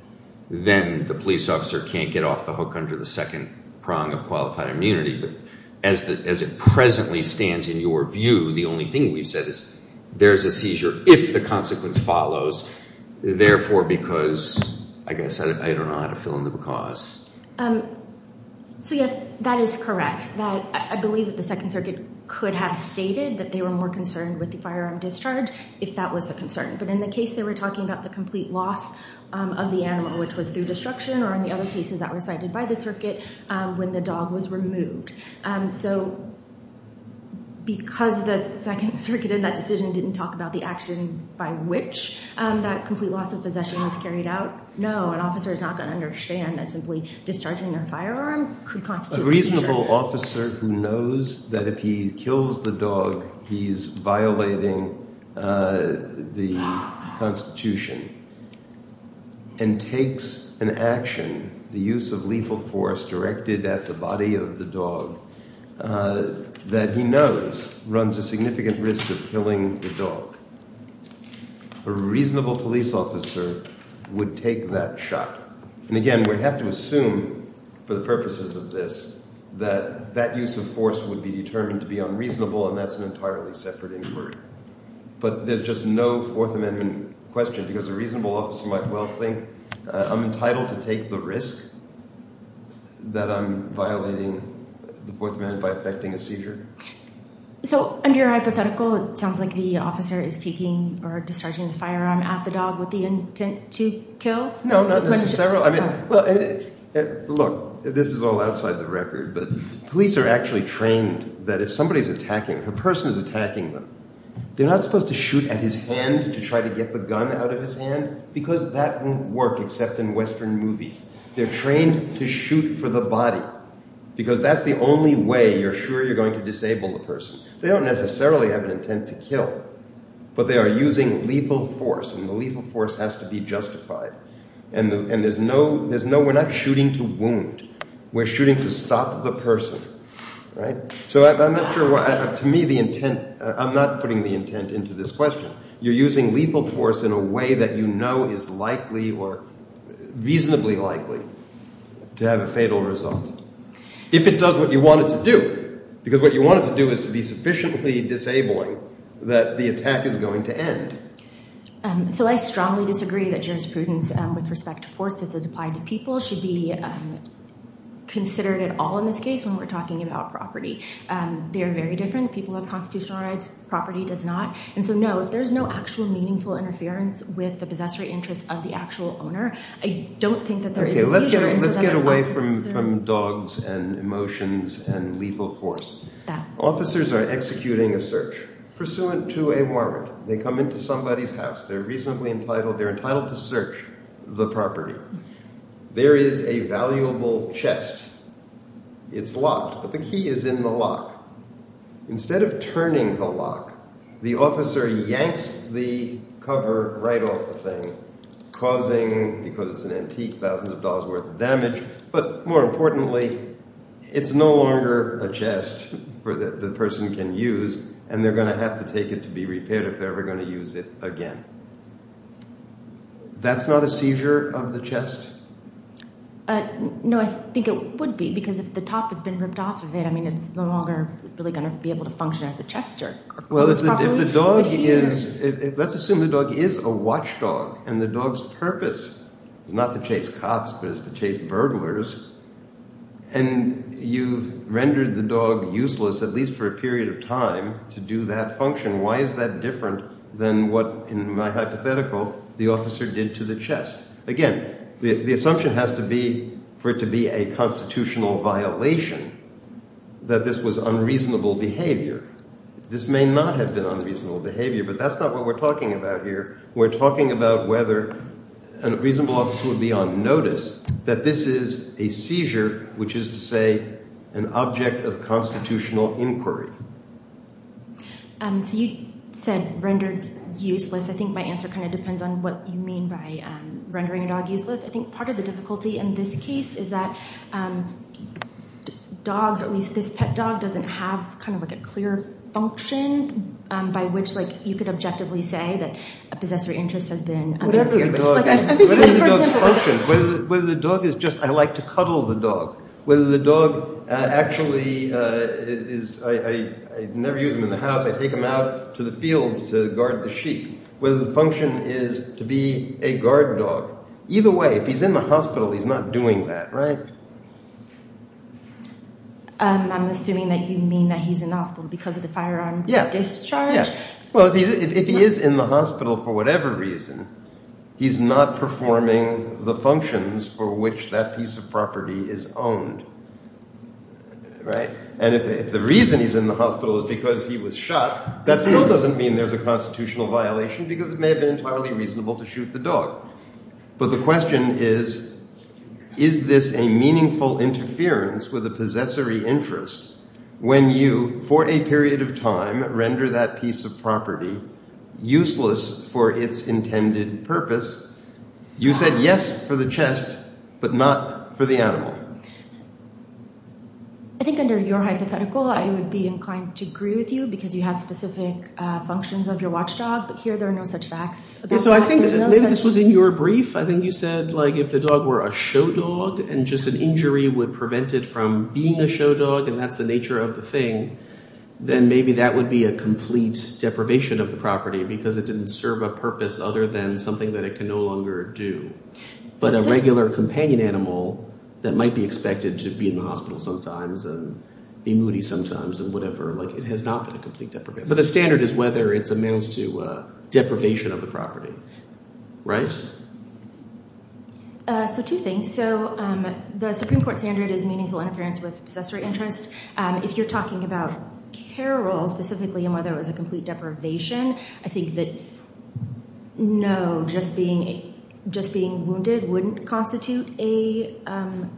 then the police officer can't get off the hook under the second prong of qualified immunity. But as it presently stands in your view, the only thing we've said is there's a seizure if the consequence follows, therefore because, I guess I don't know how to fill in the because. So, yes, that is correct. I believe that the Second Circuit could have stated that they were more concerned with the firearm discharge if that was the concern. But in the case they were talking about the complete loss of the animal, which was through destruction, or in the other cases that were cited by the circuit, when the dog was removed. So because the Second Circuit in that decision didn't talk about the actions by which that complete loss of possession was carried out, no, an officer is not going to understand that simply discharging their firearm could constitute a seizure. A reasonable officer who knows that if he kills the dog he's violating the Constitution and takes an action, the use of lethal force directed at the body of the dog, that he knows runs a significant risk of killing the dog. A reasonable police officer would take that shot. And again, we have to assume for the purposes of this that that use of force would be determined to be unreasonable, and that's an entirely separate inquiry. But there's just no Fourth Amendment question because a reasonable officer might well think I'm entitled to take the risk that I'm violating the Fourth Amendment by effecting a seizure. So under your hypothetical, it sounds like the officer is taking or discharging the firearm at the dog with the intent to kill? No, not necessarily. Look, this is all outside the record, but police are actually trained that if somebody is attacking, if a person is attacking them, they're not supposed to shoot at his hand to try to get the gun out of his hand because that won't work except in Western movies. They're trained to shoot for the body because that's the only way you're sure you're going to disable the person. They don't necessarily have an intent to kill, but they are using lethal force, and the lethal force has to be justified. And we're not shooting to wound. We're shooting to stop the person. So I'm not putting the intent into this question. You're using lethal force in a way that you know is likely or reasonably likely to have a fatal result if it does what you want it to do because what you want it to do is to be sufficiently disabling that the attack is going to end. So I strongly disagree that jurisprudence with respect to forces that apply to people should be considered at all in this case when we're talking about property. They are very different. People have constitutional rights. Property does not. And so, no, if there's no actual meaningful interference with the possessory interest of the actual owner, I don't think that there is a seizure. Okay, let's get away from dogs and emotions and lethal force. Officers are executing a search pursuant to a warrant. They come into somebody's house. They're reasonably entitled. They're entitled to search the property. There is a valuable chest. It's locked, but the key is in the lock. Instead of turning the lock, the officer yanks the cover right off the thing, causing, because it's an antique, thousands of dollars' worth of damage, but more importantly, it's no longer a chest that the person can use, and they're going to have to take it to be repaired if they're ever going to use it again. That's not a seizure of the chest? No, I think it would be, because if the top has been ripped off of it, I mean it's no longer really going to be able to function as a chest. Well, if the dog is, let's assume the dog is a watchdog, and the dog's purpose is not to chase cops but is to chase burglars, and you've rendered the dog useless, at least for a period of time, to do that function, why is that different than what, in my hypothetical, the officer did to the chest? Again, the assumption has to be for it to be a constitutional violation that this was unreasonable behavior. This may not have been unreasonable behavior, but that's not what we're talking about here. We're talking about whether a reasonable officer would be on notice that this is a seizure, which is to say an object of constitutional inquiry. So you said rendered useless. I think my answer kind of depends on what you mean by rendering a dog useless. I think part of the difficulty in this case is that dogs, or at least this pet dog doesn't have kind of like a clear function by which, like, you could objectively say that a possessor interest has been undeterred. Whatever the dog's function, whether the dog is just, I like to cuddle the dog, whether the dog actually is, I never use him in the house. I take him out to the fields to guard the sheep. Whether the function is to be a guard dog. Either way, if he's in the hospital, he's not doing that, right? I'm assuming that you mean that he's in the hospital because of the firearm discharge? Well, if he is in the hospital for whatever reason, he's not performing the functions for which that piece of property is owned, right? And if the reason he's in the hospital is because he was shot, that still doesn't mean there's a constitutional violation because it may have been entirely reasonable to shoot the dog. But the question is, is this a meaningful interference with a possessory interest when you, for a period of time, render that piece of property useless for its intended purpose? You said yes for the chest, but not for the animal. I think under your hypothetical, I would be inclined to agree with you because you have specific functions of your watchdog, but here there are no such facts. So I think this was in your brief. I think you said, like, if the dog were a show dog and just an injury would prevent it from being a show dog and that's the nature of the thing, then maybe that would be a complete deprivation of the property because it didn't serve a purpose other than something that it can no longer do. But a regular companion animal that might be expected to be in the hospital sometimes and be moody sometimes and whatever, like, it has not been a complete deprivation. But the standard is whether it amounts to deprivation of the property, right? So two things. So the Supreme Court standard is meaningful interference with a possessory interest. If you're talking about care roles specifically and whether it was a complete deprivation, I think that no, just being wounded wouldn't constitute a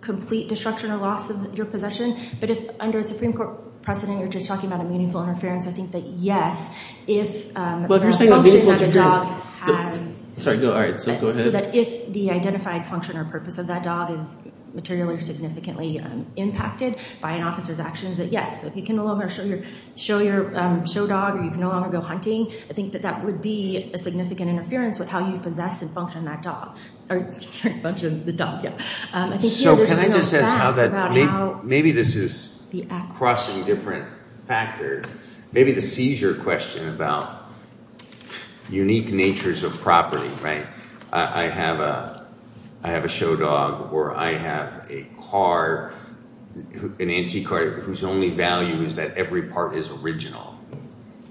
complete destruction or loss of your possession. But if under a Supreme Court precedent you're just talking about a meaningful interference, I think that yes, if there are functions that a dog has, so that if the identified function or purpose of that dog is materially or significantly impacted by an officer's actions, that yes, if you can no longer show your show dog or you can no longer go hunting, I think that that would be a significant interference with how you possess and function that dog. Or function the dog, yeah. So can I just ask how that – maybe this is crossing different factors. Maybe the seizure question about unique natures of property, right? I have a show dog or I have a car, an antique car, whose only value is that every part is original,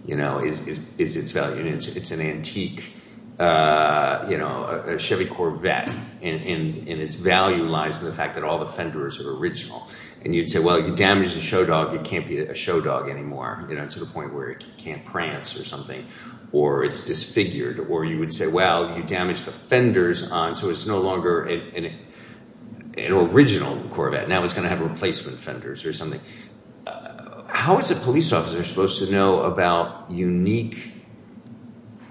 you know, is its value. It's an antique, you know, a Chevy Corvette and its value lies in the fact that all the fenders are original. And you'd say, well, you damaged the show dog, it can't be a show dog anymore, you know, to the point where it can't prance or something or it's disfigured. Or you would say, well, you damaged the fenders so it's no longer an original Corvette. Now it's going to have replacement fenders or something. How is a police officer supposed to know about unique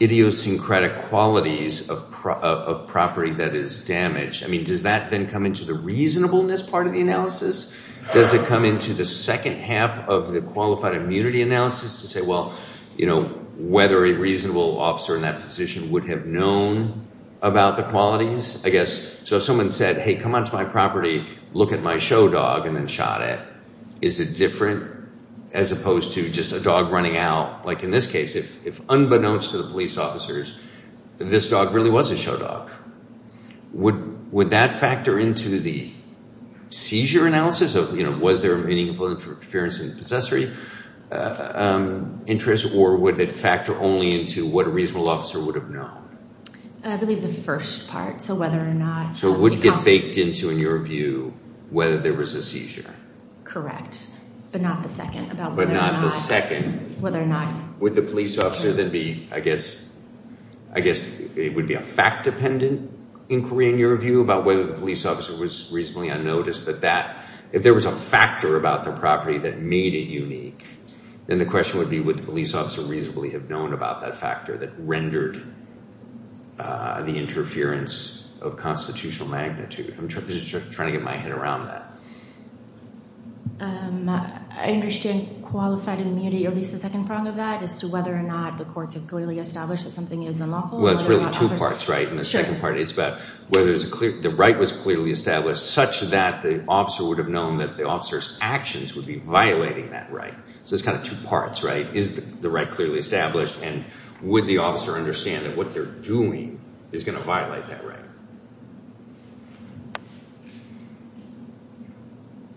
idiosyncratic qualities of property that is damaged? I mean, does that then come into the reasonableness part of the analysis? Does it come into the second half of the qualified immunity analysis to say, well, you know, whether a reasonable officer in that position would have known about the qualities? I guess, so if someone said, hey, come on to my property, look at my show dog and then shot it, is it different as opposed to just a dog running out? Like in this case, if unbeknownst to the police officers, this dog really was a show dog. Would that factor into the seizure analysis of, you know, was there meaningful interference in the possessory interest? Or would it factor only into what a reasonable officer would have known? I believe the first part, so whether or not. So it would get baked into, in your view, whether there was a seizure. Correct, but not the second. But not the second. Whether or not. Would the police officer then be, I guess, I guess it would be a fact-dependent inquiry, in your view, about whether the police officer was reasonably unnoticed that that, if there was a factor about the property that made it unique, then the question would be, would the police officer reasonably have known about that factor that rendered the interference of constitutional magnitude? I'm just trying to get my head around that. I understand qualified immunity, or at least the second prong of that, as to whether or not the courts have clearly established that something is unlawful. Well, it's really two parts, right? Sure. And the second part is about whether the right was clearly established, such that the officer would have known that the officer's actions would be violating that right. So it's kind of two parts, right? Is the right clearly established, and would the officer understand that what they're doing is going to violate that right?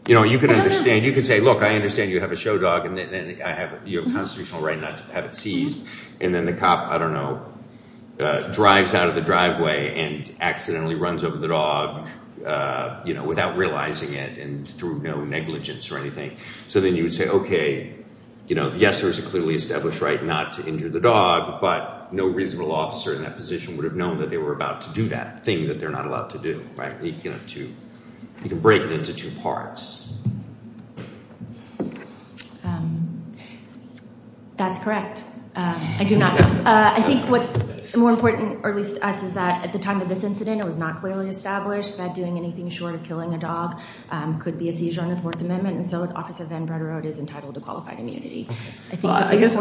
You know, you can understand, you can say, look, I understand you have a show dog, and you have a constitutional right not to have it seized, and then the cop, I don't know, drives out of the driveway and accidentally runs over the dog, you know, without realizing it and through no negligence or anything. So then you would say, okay, you know, yes, there is a clearly established right not to injure the dog, but no reasonable officer in that position would have known that they were about to do that thing that they're not allowed to do, right? You can break it into two parts. That's correct. I do not know. I think what's more important, or at least to us, is that at the time of this incident, it was not clearly established that doing anything short of killing a dog could be a seizure on the Fourth Amendment, and so Officer Van Breda Road is entitled to qualified immunity. I guess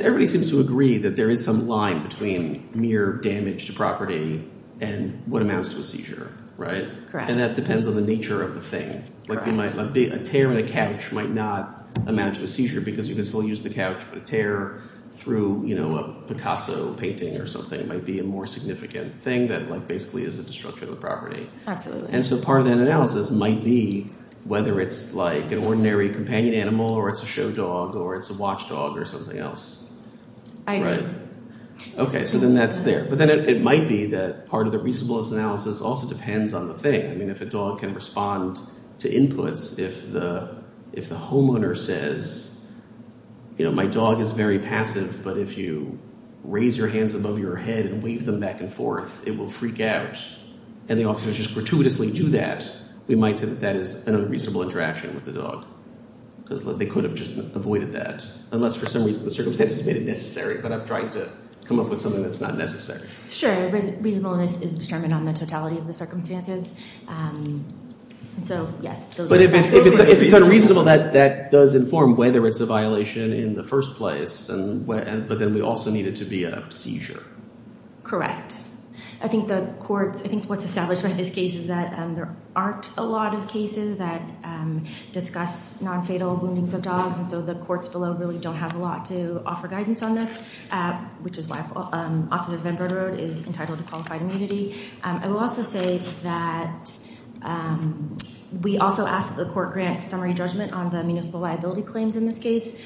everybody seems to agree that there is some line between mere damage to property and what amounts to a seizure, right? Correct. And that depends on the nature of the thing. A tear in a couch might not amount to a seizure because you can still use the couch, but a tear through a Picasso painting or something might be a more significant thing that basically is a destruction of the property. Absolutely. And so part of that analysis might be whether it's like an ordinary companion animal or it's a show dog or it's a watch dog or something else. I agree. Okay, so then that's there. But then it might be that part of the reasonableness analysis also depends on the thing. I mean, if a dog can respond to inputs, if the homeowner says, you know, my dog is very passive, but if you raise your hands above your head and wave them back and forth, it will freak out, and the officers just gratuitously do that, we might say that that is an unreasonable interaction with the dog because they could have just avoided that, unless for some reason the circumstances made it necessary, but I'm trying to come up with something that's not necessary. Sure. Reasonableness is determined on the totality of the circumstances. And so, yes. But if it's unreasonable, that does inform whether it's a violation in the first place, but then we also need it to be a seizure. Correct. I think the courts, I think what's established by this case is that there aren't a lot of cases that discuss nonfatal woundings of dogs, and so the courts below really don't have a lot to offer guidance on this, which is why Officer Venbrode is entitled to qualified immunity. I will also say that we also ask that the court grant summary judgment on the municipal liability claims in this case.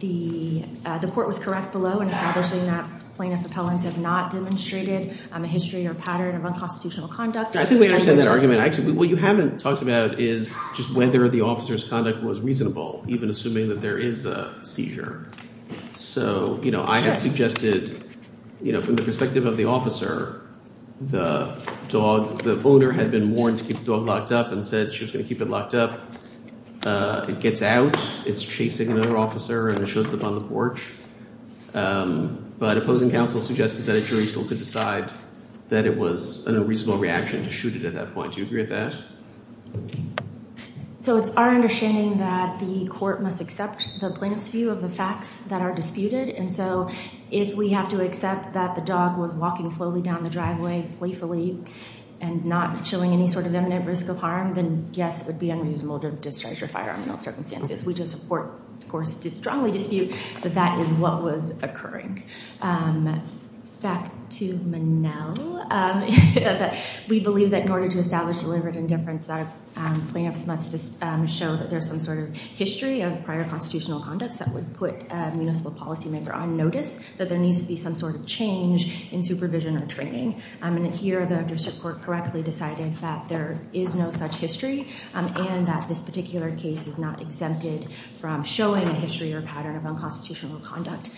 The court was correct below in establishing that plaintiff appellants have not demonstrated a history or pattern of unconstitutional conduct. I think we understand that argument. What you haven't talked about is just whether the officer's conduct was reasonable, even assuming that there is a seizure. So, you know, I had suggested, you know, from the perspective of the officer, the owner had been warned to keep the dog locked up and said she was going to keep it locked up. It gets out. It's chasing another officer, and it shows up on the porch. But opposing counsel suggested that a jury still could decide that it was a reasonable reaction to shoot it at that point. Do you agree with that? So it's our understanding that the court must accept the plaintiff's view of the facts that are disputed, and so if we have to accept that the dog was walking slowly down the driveway playfully and not showing any sort of imminent risk of harm, then, yes, it would be unreasonable to discharge her firearm in those circumstances. We just support, of course, to strongly dispute that that is what was occurring. Back to Manel. We believe that in order to establish deliberate indifference, plaintiffs must show that there's some sort of history of prior constitutional conducts that would put a municipal policymaker on notice that there needs to be some sort of change in supervision or training. And here the district court correctly decided that there is no such history and that this particular case is not exempted from showing a history or pattern of unconstitutional conduct.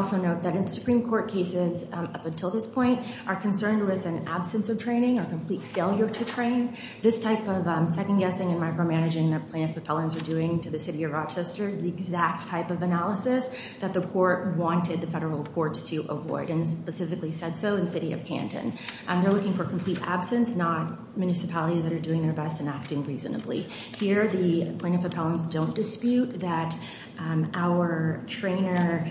Also note that in Supreme Court cases up until this point are concerned with an absence of training or complete failure to train. This type of second-guessing and micromanaging that plaintiff appellants are doing to the city of Rochester is the exact type of analysis that the court wanted the federal courts to avoid and specifically said so in the city of Canton. They're looking for complete absence, not municipalities that are doing their best and acting reasonably. Here the plaintiff appellants don't dispute that our trainer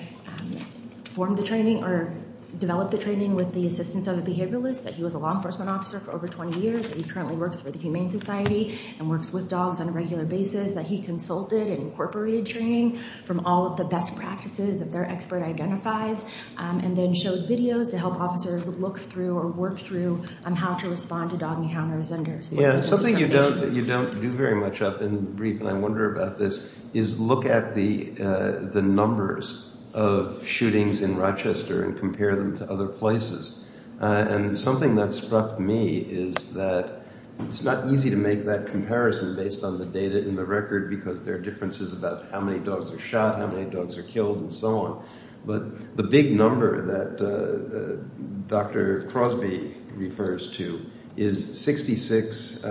formed the training or developed the training with the assistance of a behavioralist, that he was a law enforcement officer for over 20 years, that he currently works for the Humane Society and works with dogs on a regular basis, that he consulted and incorporated training from all of the best practices that their expert identifies, and then showed videos to help officers look through or work through how to respond to dog encounters. Yeah, something you don't do very much of in the brief, and I wonder about this, is look at the numbers of shootings in Rochester and compare them to other places. And something that struck me is that it's not easy to make that comparison based on the data in the record because there are differences about how many dogs are shot, how many dogs are killed, and so on. But the big number that Dr. Crosby refers to is 66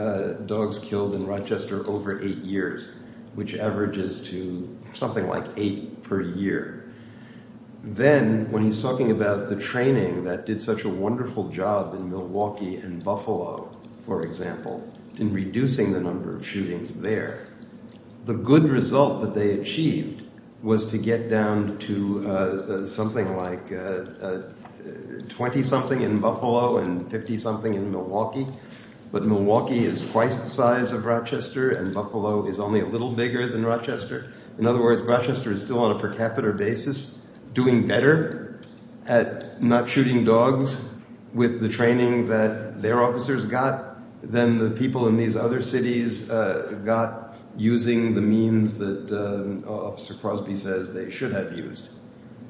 dogs killed in Rochester over 8 years, which averages to something like 8 per year. Then, when he's talking about the training that did such a wonderful job in Milwaukee and Buffalo, for example, in reducing the number of shootings there, the good result that they achieved was to get down to something like 20-something in Buffalo and 50-something in Milwaukee. But Milwaukee is twice the size of Rochester and Buffalo is only a little bigger than Rochester. In other words, Rochester is still on a per capita basis doing better at not shooting dogs with the training that their officers got than the people in these other cities got using the means that Officer Crosby says they should have used.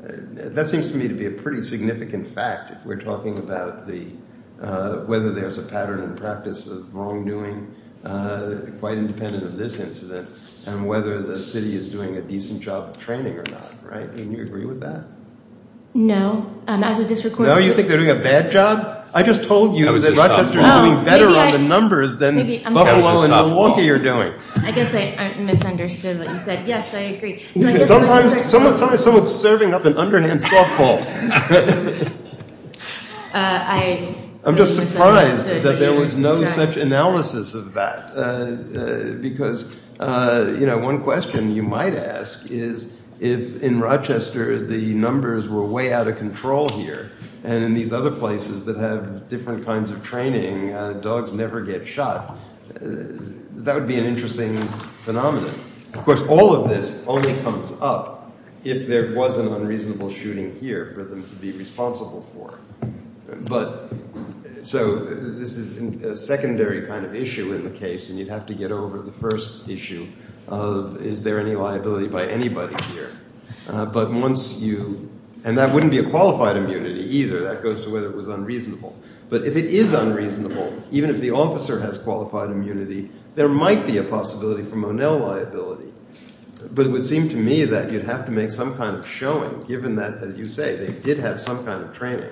That seems to me to be a pretty significant fact if we're talking about whether there's a pattern in practice of wrongdoing, quite independent of this incident, and whether the city is doing a decent job of training or not, right? Do you agree with that? No. No? You think they're doing a bad job? I just told you that Rochester is doing better on the numbers than Buffalo and Milwaukee are doing. I guess I misunderstood what you said. Yes, I agree. Sometimes someone's serving up an underhand softball. I'm just surprised that there was no such analysis of that. Because one question you might ask is if in Rochester the numbers were way out of control here and in these other places that have different kinds of training, dogs never get shot. That would be an interesting phenomenon. Of course, all of this only comes up if there was an unreasonable shooting here for them to be responsible for. So this is a secondary kind of issue in the case, and you'd have to get over the first issue of is there any liability by anybody here. But once you – and that wouldn't be a qualified immunity either. That goes to whether it was unreasonable. But if it is unreasonable, even if the officer has qualified immunity, there might be a possibility for Monell liability. But it would seem to me that you'd have to make some kind of showing given that, as you say, they did have some kind of training.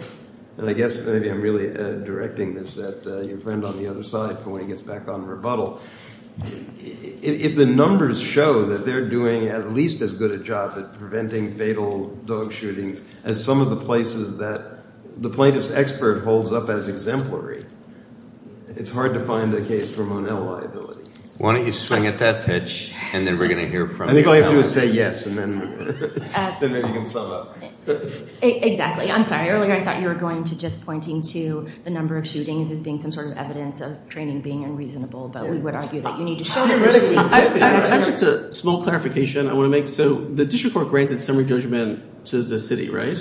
And I guess maybe I'm really directing this at your friend on the other side for when he gets back on rebuttal. If the numbers show that they're doing at least as good a job at preventing fatal dog shootings as some of the places that the plaintiff's expert holds up as exemplary, it's hard to find a case for Monell liability. Why don't you swing at that pitch, and then we're going to hear from you. I think all you have to do is say yes, and then you can sum up. Exactly. I'm sorry. Earlier I thought you were going to just pointing to the number of shootings as being some sort of evidence of training being unreasonable. But we would argue that you need to show that there were shootings. Just a small clarification I want to make. So the district court granted summary judgment to the city, right?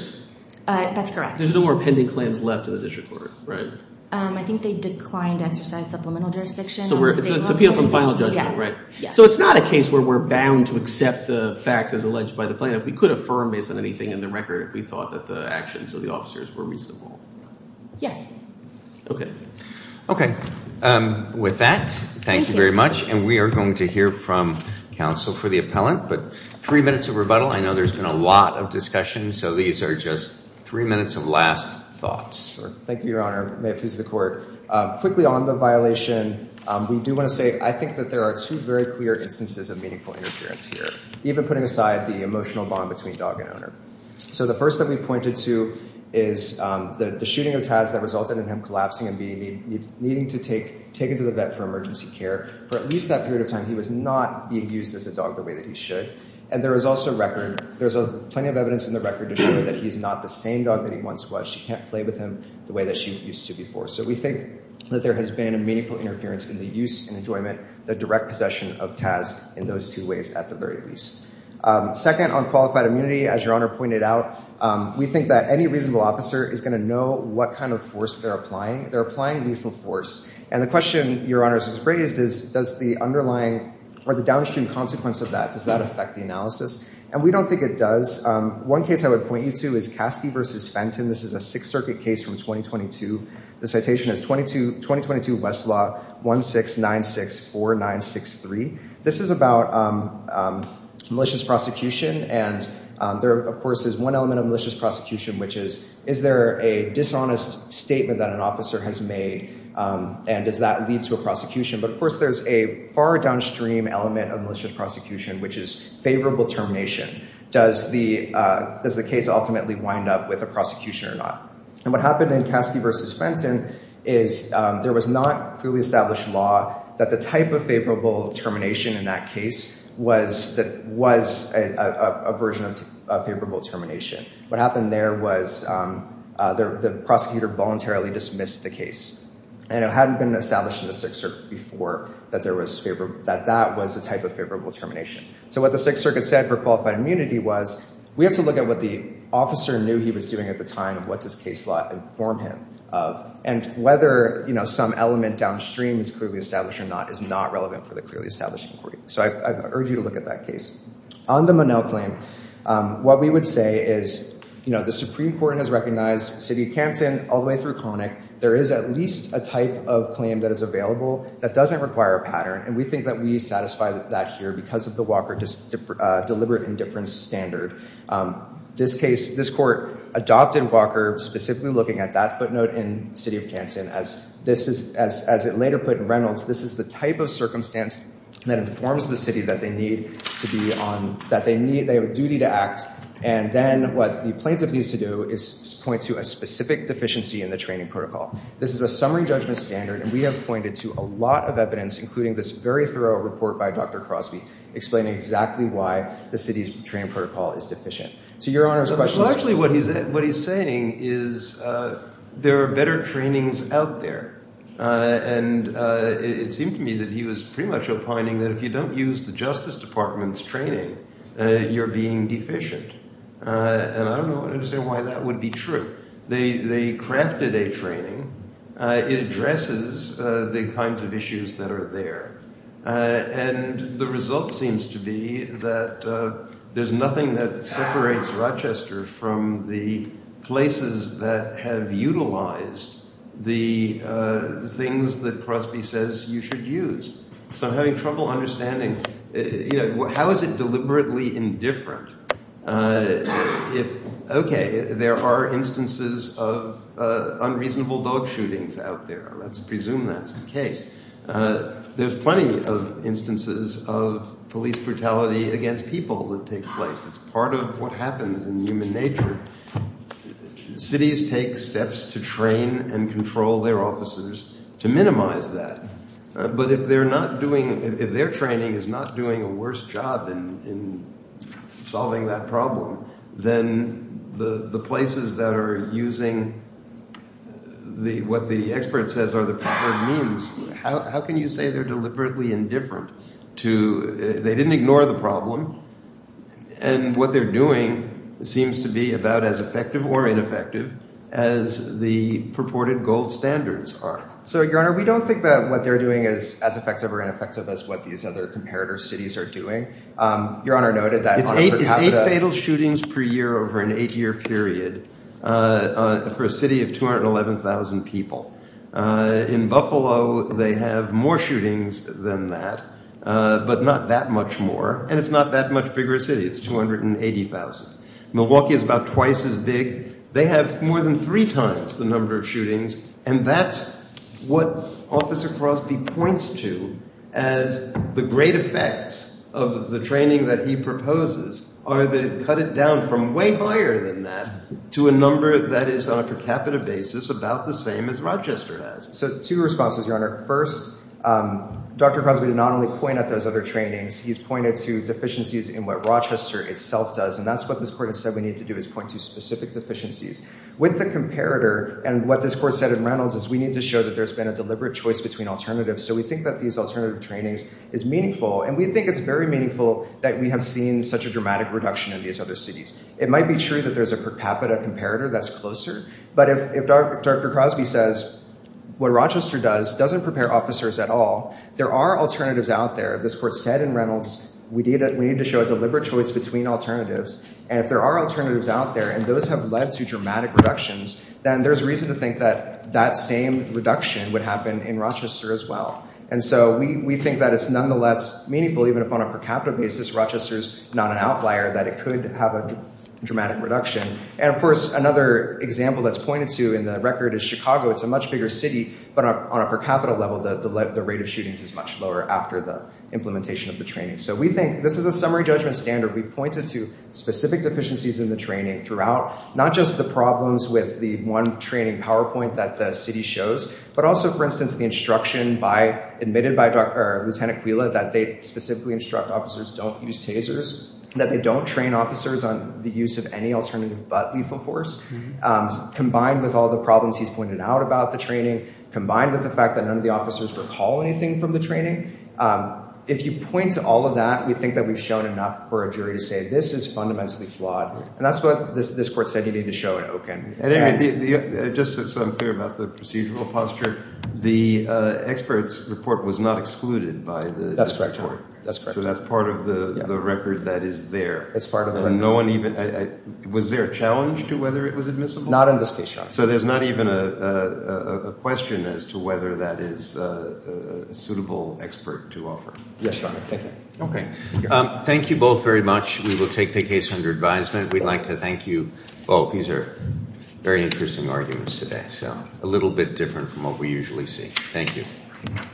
That's correct. There's no more pending claims left in the district court, right? I think they declined to exercise supplemental jurisdiction. So it's an appeal from final judgment, right? So it's not a case where we're bound to accept the facts as alleged by the plaintiff. We could affirm based on anything in the record if we thought that the actions of the officers were reasonable. Yes. Okay. With that, thank you very much. And we are going to hear from counsel for the appellant. But three minutes of rebuttal. I know there's been a lot of discussion, so these are just three minutes of last thoughts. Thank you, Your Honor. May it please the court. Quickly on the violation, we do want to say I think that there are two very clear instances of meaningful interference here, even putting aside the emotional bond between dog and owner. So the first that we pointed to is the shooting of Taz that resulted in him collapsing and needing to take him to the vet for emergency care. For at least that period of time, he was not being used as a dog the way that he should. And there is also record, there's plenty of evidence in the record to show that he's not the same dog that he once was. She can't play with him the way that she used to before. So we think that there has been a meaningful interference in the use and enjoyment, the direct possession of Taz in those two ways at the very least. Second, on qualified immunity, as Your Honor pointed out, we think that any reasonable officer is going to know what kind of force they're applying. They're applying lethal force. And the question Your Honor has raised is does the underlying or the downstream consequence of that, does that affect the analysis? And we don't think it does. One case I would point you to is Caskey v. Fenton. This is a Sixth Circuit case from 2022. The citation is 2022 Westlaw 16964963. This is about malicious prosecution. And there, of course, is one element of malicious prosecution, which is, is there a dishonest statement that an officer has made and does that lead to a prosecution? But, of course, there's a far downstream element of malicious prosecution, which is favorable termination. Does the case ultimately wind up with a prosecution or not? And what happened in Caskey v. Fenton is there was not clearly established law that the type of favorable termination in that case was a version of favorable termination. What happened there was the prosecutor voluntarily dismissed the case. And it hadn't been established in the Sixth Circuit before that that was a type of favorable termination. So what the Sixth Circuit said for qualified immunity was we have to look at what the officer knew he was doing at the time and what does case law inform him of. And whether, you know, some element downstream is clearly established or not is not relevant for the clearly established inquiry. So I urge you to look at that case. On the Monell claim, what we would say is, you know, the Supreme Court has recognized City of Canton all the way through Koenig. There is at least a type of claim that is available that doesn't require a pattern. And we think that we satisfy that here because of the Walker deliberate indifference standard. This case, this court adopted Walker specifically looking at that footnote in City of Canton. As it later put in Reynolds, this is the type of circumstance that informs the city that they need to be on, that they have a duty to act. And then what the plaintiff needs to do is point to a specific deficiency in the training protocol. This is a summary judgment standard. And we have pointed to a lot of evidence, including this very thorough report by Dr. Crosby, explaining exactly why the city's training protocol is deficient. So Your Honor's question is – Well, actually what he's saying is there are better trainings out there. And it seemed to me that he was pretty much opining that if you don't use the Justice Department's training, you're being deficient. And I don't understand why that would be true. They crafted a training. It addresses the kinds of issues that are there. And the result seems to be that there's nothing that separates Rochester from the places that have utilized the things that Crosby says you should use. So I'm having trouble understanding. How is it deliberately indifferent? If – okay, there are instances of unreasonable dog shootings out there. Let's presume that's the case. There's plenty of instances of police brutality against people that take place. It's part of what happens in human nature. Cities take steps to train and control their officers to minimize that. But if they're not doing – if their training is not doing a worse job in solving that problem, then the places that are using what the expert says are the proper means, how can you say they're deliberately indifferent to – they didn't ignore the problem. And what they're doing seems to be about as effective or ineffective as the purported gold standards are. So, Your Honor, we don't think that what they're doing is as effective or ineffective as what these other comparator cities are doing. Your Honor noted that – It's eight fatal shootings per year over an eight-year period for a city of 211,000 people. In Buffalo, they have more shootings than that, but not that much more, and it's not that much bigger a city. It's 280,000. Milwaukee is about twice as big. They have more than three times the number of shootings, and that's what Officer Crosby points to as the great effects of the training that he proposes are that it cut it down from way higher than that to a number that is on a per capita basis about the same as Rochester has. So, two responses, Your Honor. First, Dr. Crosby did not only point at those other trainings. He's pointed to deficiencies in what Rochester itself does, and that's what this court has said we need to do is point to specific deficiencies. With the comparator, and what this court said in Reynolds is we need to show that there's been a deliberate choice between alternatives. So we think that these alternative trainings is meaningful, and we think it's very meaningful that we have seen such a dramatic reduction in these other cities. It might be true that there's a per capita comparator that's closer, but if Dr. Crosby says what Rochester does doesn't prepare officers at all, there are alternatives out there. This court said in Reynolds we need to show a deliberate choice between alternatives, and if there are alternatives out there, and those have led to dramatic reductions, then there's reason to think that that same reduction would happen in Rochester as well. And so we think that it's nonetheless meaningful, even if on a per capita basis, Rochester's not an outlier, that it could have a dramatic reduction. And, of course, another example that's pointed to in the record is Chicago. It's a much bigger city, but on a per capita level, the rate of shootings is much lower after the implementation of the training. So we think this is a summary judgment standard. We've pointed to specific deficiencies in the training throughout, not just the problems with the one training PowerPoint that the city shows, but also, for instance, the instruction admitted by Lieutenant Quila that they specifically instruct officers don't use tasers, that they don't train officers on the use of any alternative but lethal force, combined with all the problems he's pointed out about the training, combined with the fact that none of the officers recall anything from the training. If you point to all of that, we think that we've shown enough for a jury to say this is fundamentally flawed, and that's what this court said you need to show it, okay? And anyway, just so I'm clear about the procedural posture, the expert's report was not excluded by the court. That's correct. So that's part of the record that is there. It's part of the record. Was there a challenge to whether it was admissible? Not in this case, Your Honor. So there's not even a question as to whether that is a suitable expert to offer? Yes, Your Honor. Okay. Thank you both very much. We will take the case under advisement. We'd like to thank you both. These are very interesting arguments today, so a little bit different from what we usually see. Thank you.